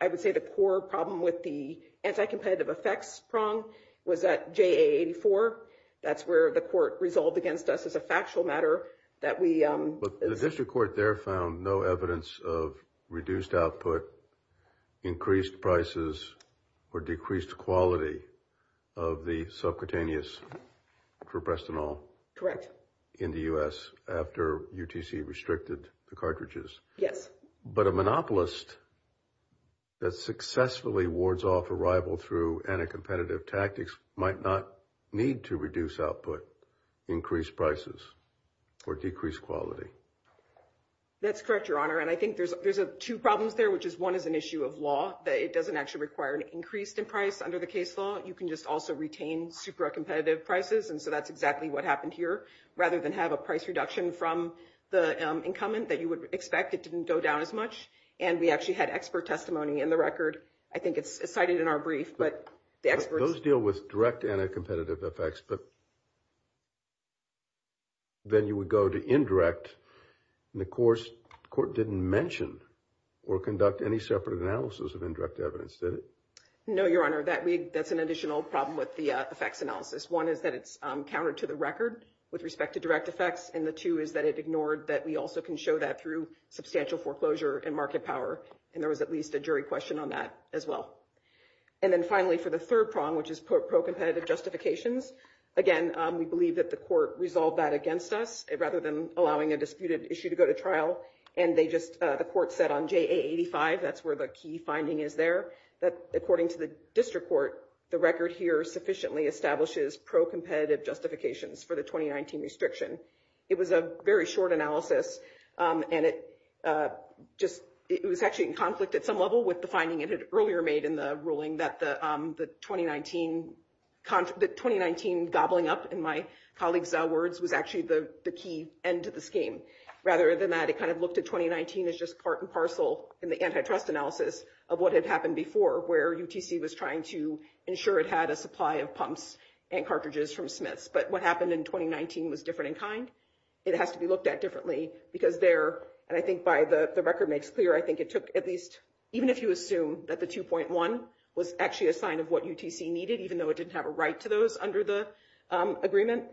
I would say the core problem with the anti-competitive effects prong was that JA84, that's where the court resolved against us as a factual matter that we. But the district court there found no evidence of reduced output, increased prices, or decreased quality of the subcutaneous proprastanol. Correct. In the U.S. after UTC restricted the cartridges. Yes. But a monopolist that successfully wards off a rival through anti-competitive tactics might not need to reduce output, increase prices, or decrease quality. That's correct, Your Honor, and I think there's two problems there, which is one is an issue of law, that it doesn't actually require an increase in price under the case law. You can just also retain super competitive prices, and so that's exactly what happened here. Rather than have a price reduction from the incumbent that you would expect, it didn't go down as much, and we actually had expert testimony in the record. I think it's cited in our brief, but the experts. Those deal with direct anti-competitive effects, but then you would go to indirect, and the court didn't mention or conduct any separate analysis of indirect evidence, did it? No, Your Honor, that's an additional problem with the effects analysis. One is that it's countered to the record with respect to direct effects, and the two is that it ignored that we also can show that through substantial foreclosure and market power, and there was at least a jury question on that as well. And then finally, for the third problem, which is pro-competitive justifications, again, we believe that the court resolved that against us rather than allowing a disputed issue to go to trial, and the court said on JA85, that's where the key finding is there, that according to the district court, the record here sufficiently establishes pro-competitive justifications for the 2019 restriction. It was a very short analysis, and it was actually in conflict at some level with the finding it had earlier made in the ruling that the 2019 gobbling up, in my colleague's words, was actually the key end to the scheme. Rather than that, it kind of looked at 2019 as just part and parcel in the antitrust analysis of what had happened before, where UTC was trying to ensure it had a supply of pumps and cartridges from Smiths, but what happened in 2019 was different in kind. It has to be looked at differently because there, and I think by the record makes clear, I think it took at least, even if you assume that the 2.1 was actually a sign of what UTC needed, even though it didn't have a right to those under the agreement,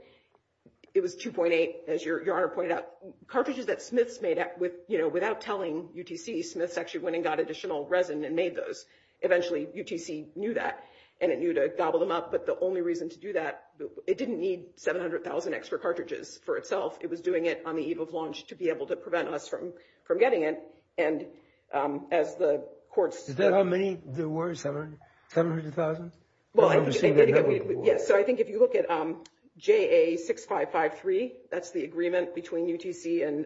it was 2.8, as your Honor pointed out, cartridges that Smiths made without telling UTC, Smiths actually went and got additional resin and made those. Eventually, UTC knew that, and it knew to gobble them up, but the only reason to do that, it didn't need 700,000 extra cartridges for itself. It was doing it on the eve of launch to be able to prevent us from getting it, and as the courts- Is that how many there were, 700,000? Well, I think if you look at JA6553, that's the agreement between UTC and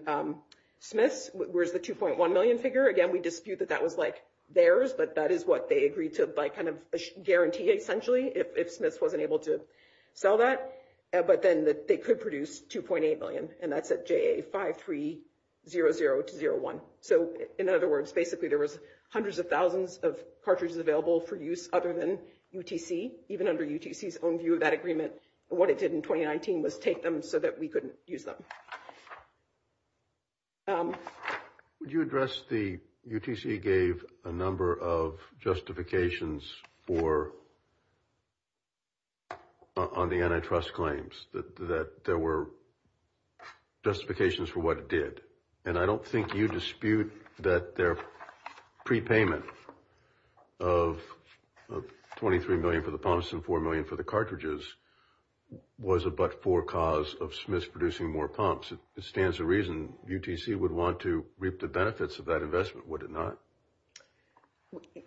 Smiths, where's the 2.1 million figure. Again, we dispute that that was like theirs, but that is what they agreed to by kind of guarantee, essentially, if Smiths wasn't able to sell that, but then they could produce 2.8 million, and that's at JA5300-01. So in other words, basically there was hundreds of thousands of cartridges available for use other than UTC. Even under UTC's own view of that agreement, what it did in 2019 was take them so that we couldn't use them. Would you address the- UTC gave a number of justifications on the antitrust claims, that there were justifications for what it did, and I don't think you dispute that their prepayment of 23 million for the pumps and 4 million for the cartridges was a but-for cause of Smiths producing more pumps. It stands to reason UTC would want to reap the benefits of that investment, would it not?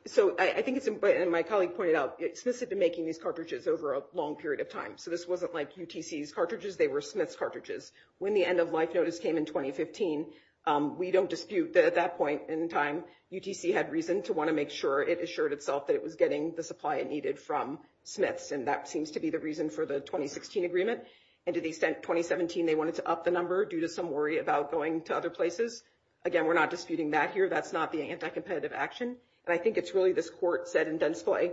So I think it's important, and my colleague pointed out, Smiths had been making these cartridges over a long period of time, so this wasn't like UTC's cartridges, they were Smiths' cartridges. When the end-of-life notice came in 2015, we don't dispute that at that point in time, UTC had reason to want to make sure it assured itself that it was getting the supply it needed from Smiths, and that seems to be the reason for the 2016 agreement. And to the extent 2017 they wanted to up the number due to some worry about going to other places, again, we're not disputing that here, that's not being anti-competitive action. But I think it's really this court said in Densply,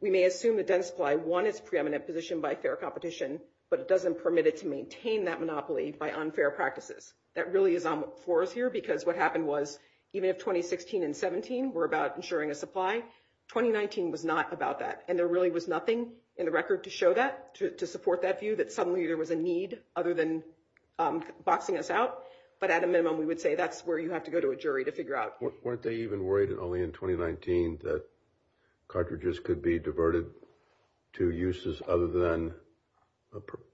we may assume that Densply won its preeminent position by fair competition, but it doesn't permit it to maintain that monopoly by unfair practices. That really is on the force here, because what happened was, even if 2016 and 17 were about ensuring a supply, 2019 was not about that, and there really was nothing in the record to show that, to support that view, that suddenly there was a need other than boxing us out. But at a minimum, we would say that's where you have to go to a jury to figure out. Weren't they even worried only in 2019 that cartridges could be diverted to uses other than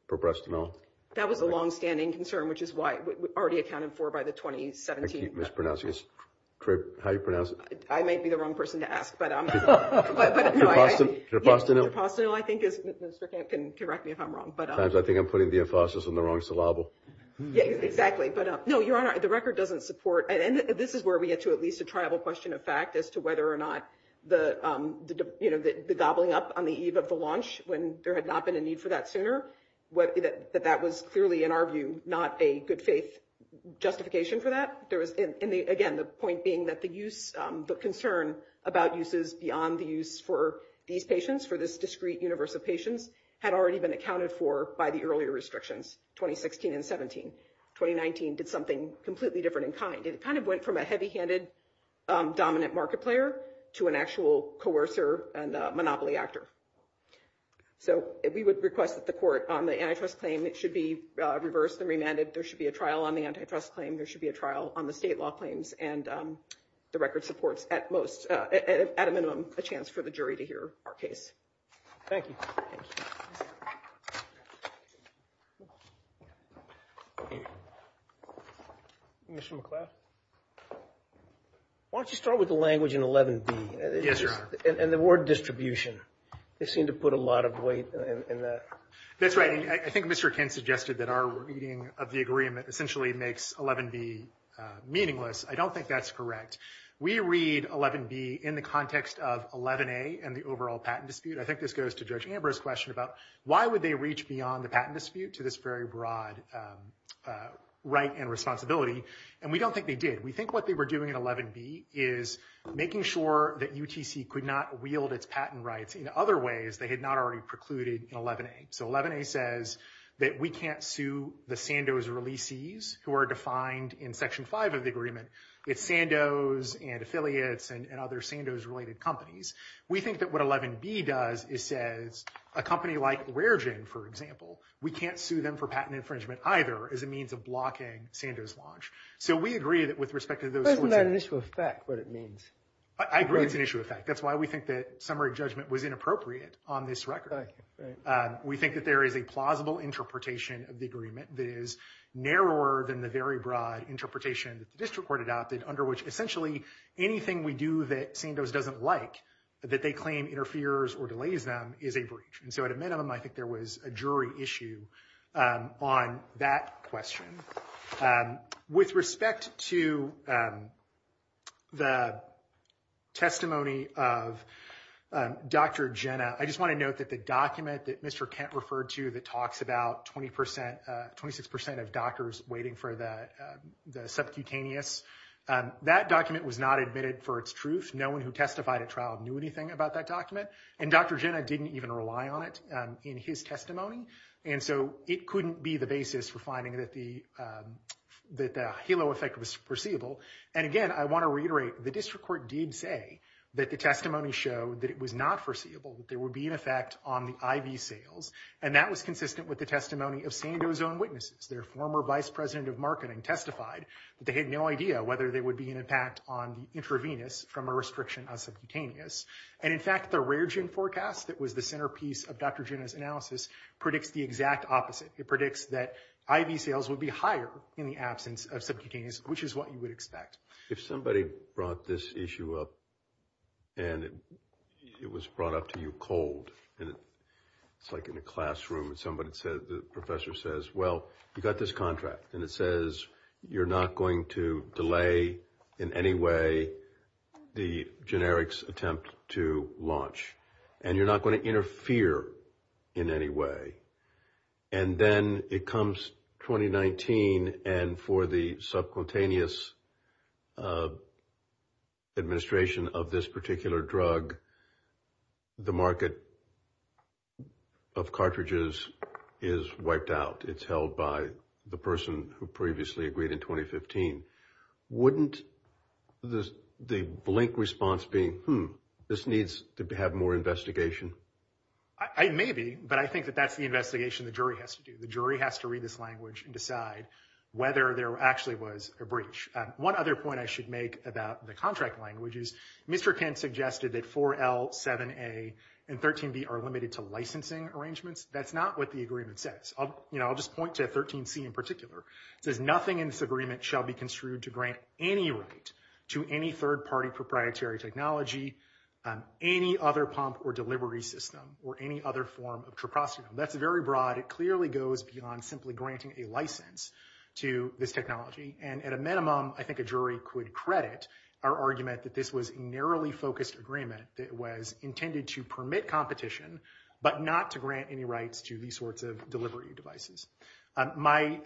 proprescinol? That was a longstanding concern, which is why it was already accounted for by the 2017. I keep mispronouncing it. How do you pronounce it? I might be the wrong person to ask, but I'm not sure. Proprescinol? Proprescinol, I think, if Mr. Kent can correct me if I'm wrong. Sometimes I think I'm putting the emphasis on the wrong syllable. Exactly. No, Your Honor, the record doesn't support, and this is where we get to at least a tribal question of fact, as to whether or not the gobbling up on the eve of the launch, when there had not been a need for that sooner, that that was clearly, in our view, not a good faith justification for that. Again, the point being that the concern about uses beyond the use for these patients, for this discrete universe of patients, had already been accounted for by the earlier restrictions, 2016 and 17. 2019 did something completely different in kind. It kind of went from a heavy-handed dominant market player to an actual coercer and monopoly actor. So we would request that the court on the antitrust claim, it should be reversed and remanded. There should be a trial on the antitrust claim. There should be a trial on the state law claims. And the record supports, at most, at a minimum, a chance for the jury to hear our case. Thank you. Mr. McLeod? Why don't you start with the language in 11B? Yes, Your Honor. And the word distribution. They seem to put a lot of weight in that. That's right. I think Mr. Kent suggested that our reading of the agreement essentially makes 11B meaningless. I don't think that's correct. We read 11B in the context of 11A and the overall patent dispute. I think this goes to Judge Amber's question about why would they reach beyond the patent dispute to this very broad right and responsibility. And we don't think they did. We think what they were doing in 11B is making sure that UTC could not wield its patent rights in other ways they had not already precluded in 11A. So 11A says that we can't sue the Sandoz releases, who are defined in Section 5 of the agreement, with Sandoz and affiliates and other Sandoz-related companies. We think that what 11B does is says a company like Rare Jane, for example, we can't sue them for patent infringement either as a means of blocking Sandoz launch. So we agree that with respect to those – Isn't that an issue of fact, what it means? I agree it's an issue of fact. That's why we think that summary judgment was inappropriate on this record. We think that there is a plausible interpretation of the agreement that is narrower than the very broad interpretation that the district court adopted under which essentially anything we do that Sandoz doesn't like, that they claim interferes or delays them, is a breach. And so to admit on them, I think there was a jury issue on that question. With respect to the testimony of Dr. Jenna, I just want to note that the document that Mr. Kent referred to that talks about 26% of doctors waiting for the subcutaneous, that document was not admitted for its truth. No one who testified at trial knew anything about that document. And Dr. Jenna didn't even rely on it in his testimony. And so it couldn't be the basis for finding that the HALO effect was foreseeable. And again, I want to reiterate, the district court did say that the testimony showed that it was not foreseeable, that there would be an effect on the IV sales. And that was consistent with the testimony of Sandoz's own witnesses. Their former vice president of marketing testified that they had no idea whether there would be an impact on the intravenous from a restriction of subcutaneous. And in fact, the rare gene forecast that was the centerpiece of Dr. Jenna's analysis predicts the exact opposite. It predicts that IV sales would be higher in the absence of subcutaneous, which is what you would expect. If somebody brought this issue up and it was brought up to you cold, and it's like in a classroom and somebody said, the professor says, well, you've got this contract. And it says you're not going to delay in any way the generics attempt to launch. And you're not going to interfere in any way. And then it comes 2019, and for the subcutaneous administration of this particular drug, the market of cartridges is wiped out. It's held by the person who previously agreed in 2015. Wouldn't the blink response be, hmm, this needs to have more investigation? I may be, but I think that that's the investigation the jury has to do. The jury has to read this language and decide whether there actually was a breach. One other point I should make about the contract language is Mr. Penn suggested that 4L, 7A, and 13B are limited to licensing arrangements. That's not what the agreement says. I'll just point to 13C in particular. It says nothing in this agreement shall be construed to grant any right to any third-party proprietary technology, any other pump or delivery system, or any other form of preposterous. That's very broad. It clearly goes beyond simply granting a license to this technology. And at a minimum, I think a jury could credit our argument that this was a narrowly focused agreement that was intended to permit competition, but not to grant any rights to these sorts of delivery devices. My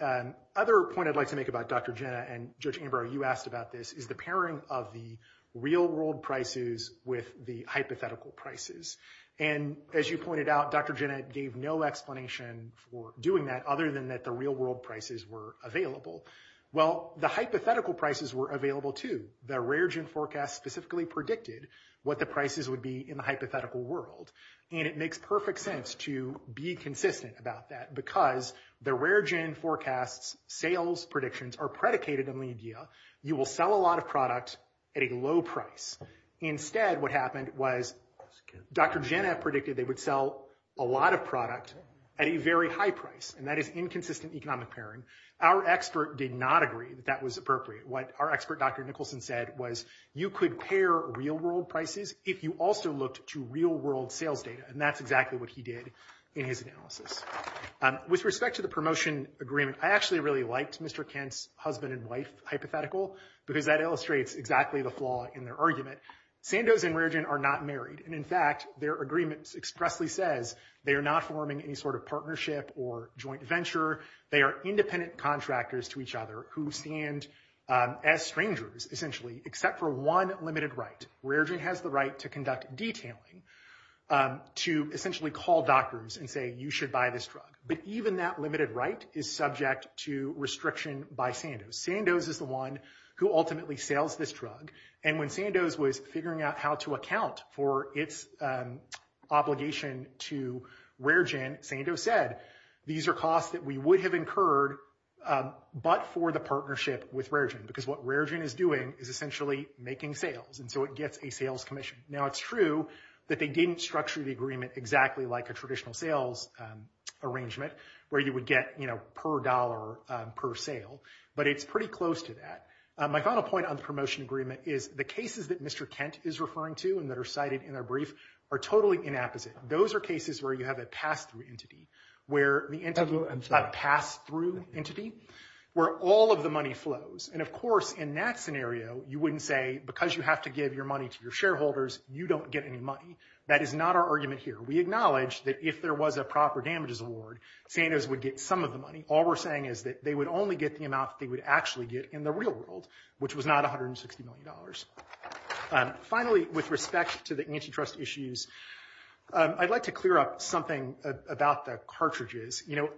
other point I'd like to make about Dr. Jenna and Judge Ambrose, you asked about this, is the pairing of the real-world prices with the hypothetical prices. And as you pointed out, Dr. Jenna gave no explanation for doing that, other than that the real-world prices were available. Well, the hypothetical prices were available too. The rare-gen forecast specifically predicted what the prices would be in the hypothetical world. And it makes perfect sense to be consistent about that because the rare-gen forecast's sales predictions are predicated on lead yield. You will sell a lot of products at a low price. Instead, what happened was Dr. Jenna predicted they would sell a lot of products at a very high price, and that is inconsistent economic pairing. Our expert did not agree that that was appropriate. What our expert, Dr. Nicholson, said was you could pair real-world prices if you also looked to real-world sales data, and that's exactly what he did in his analysis. With respect to the promotion agreement, I actually really liked Mr. Kent's husband-and-wife hypothetical because that illustrates exactly the flaw in their argument. Sandoz and rare-gen are not married. And, in fact, their agreement expressly says they are not forming any sort of partnership or joint venture. They are independent contractors to each other who stand as strangers, essentially, except for one limited right. Rare-gen has the right to conduct detailing, to essentially call doctors and say you should buy this drug. But even that limited right is subject to restriction by Sandoz. Sandoz is the one who ultimately sells this drug. And when Sandoz was figuring out how to account for its obligation to rare-gen, Sandoz said these are costs that we would have incurred but for the partnership with rare-gen because what rare-gen is doing is essentially making sales, and so it gets a sales commission. Now, it's true that they didn't structure the agreement exactly like a traditional sales arrangement where you would get, you know, per dollar per sale, but it's pretty close to that. My final point on the promotion agreement is the cases that Mr. Kent is referring to and that are cited in our brief are totally inapposite. Those are cases where you have a pass-through entity where all of the money flows. And, of course, in that scenario, you wouldn't say because you have to give your money to your shareholders, you don't get any money. That is not our argument here. We acknowledge that if there was a proper damages award, Sandoz would get some of the money. All we're saying is that they would only get the amount they would actually get in the real world, which was not $160 million. Finally, with respect to the antitrust issues, I'd like to clear up something about the cartridges. You know,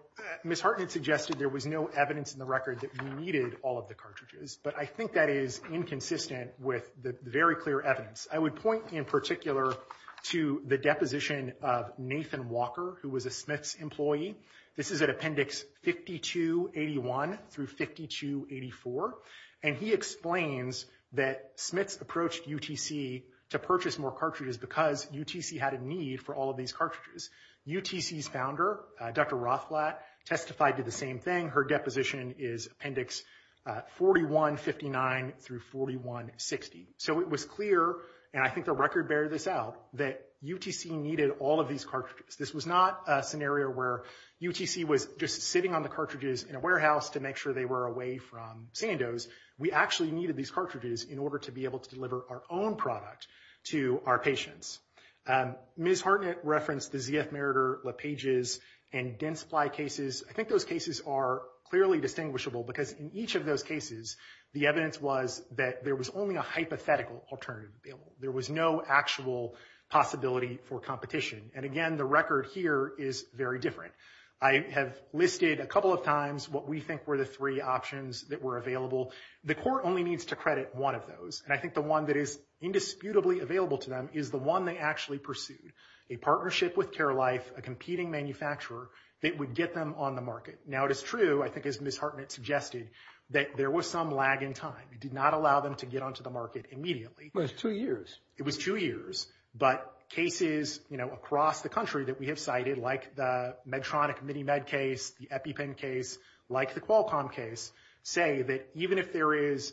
Ms. Hartman suggested there was no evidence in the record that we needed all of the cartridges, but I think that is inconsistent with the very clear evidence. I would point in particular to the deposition of Nathan Walker, who was a Smiths employee. This is at Appendix 5281 through 5284. And he explains that Smiths approached UTC to purchase more cartridges because UTC had a need for all of these cartridges. UTC's founder, Dr. Rothblatt, testified to the same thing. Her deposition is Appendix 4159 through 4160. So it was clear, and I think the record bears this out, that UTC needed all of these cartridges. This was not a scenario where UTC was just sitting on the cartridges in a warehouse to make sure they were away from Sandoz. We actually needed these cartridges in order to be able to deliver our own product to our patients. Ms. Hartman referenced the ZF Meritor, LePages, and Dent Supply cases. I think those cases are clearly distinguishable because in each of those cases, the evidence was that there was only a hypothetical alternative available. There was no actual possibility for competition. And again, the record here is very different. I have listed a couple of times what we think were the three options that were available. The court only needs to credit one of those. And I think the one that is indisputably available to them is the one they actually pursued, a partnership with Care Life, a competing manufacturer that would get them on the market. Now, it is true, I think as Ms. Hartman suggested, that there was some lag in time. We did not allow them to get onto the market immediately. It was two years. But cases across the country that we have cited, like the Medtronic MiniMed case, the EpiPen case, like the Qualcomm case, say that even if there is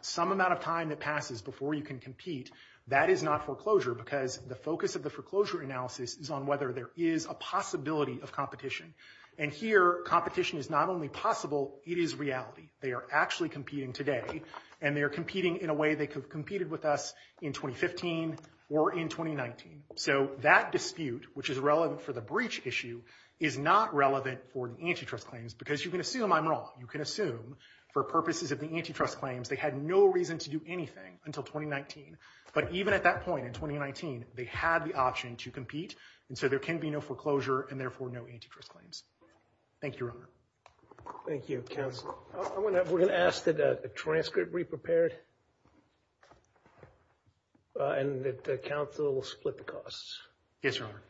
some amount of time that passes before you can compete, that is not foreclosure because the focus of the foreclosure analysis is on whether there is a possibility of competition. And here, competition is not only possible, it is reality. They are actually competing today and they are competing in a way they could have competed with us in 2015 or in 2019. So that dispute, which is relevant for the breach issue, is not relevant for antitrust claims because you can assume I'm wrong. You can assume for purposes of the antitrust claims, they had no reason to do anything until 2019. But even at that point in 2019, they had the option to compete. And so there can be no foreclosure and therefore no antitrust claims. Thank you. Thank you, counsel. We're going to ask that the transcript be prepared and that counsel split the costs. Yes, your honor.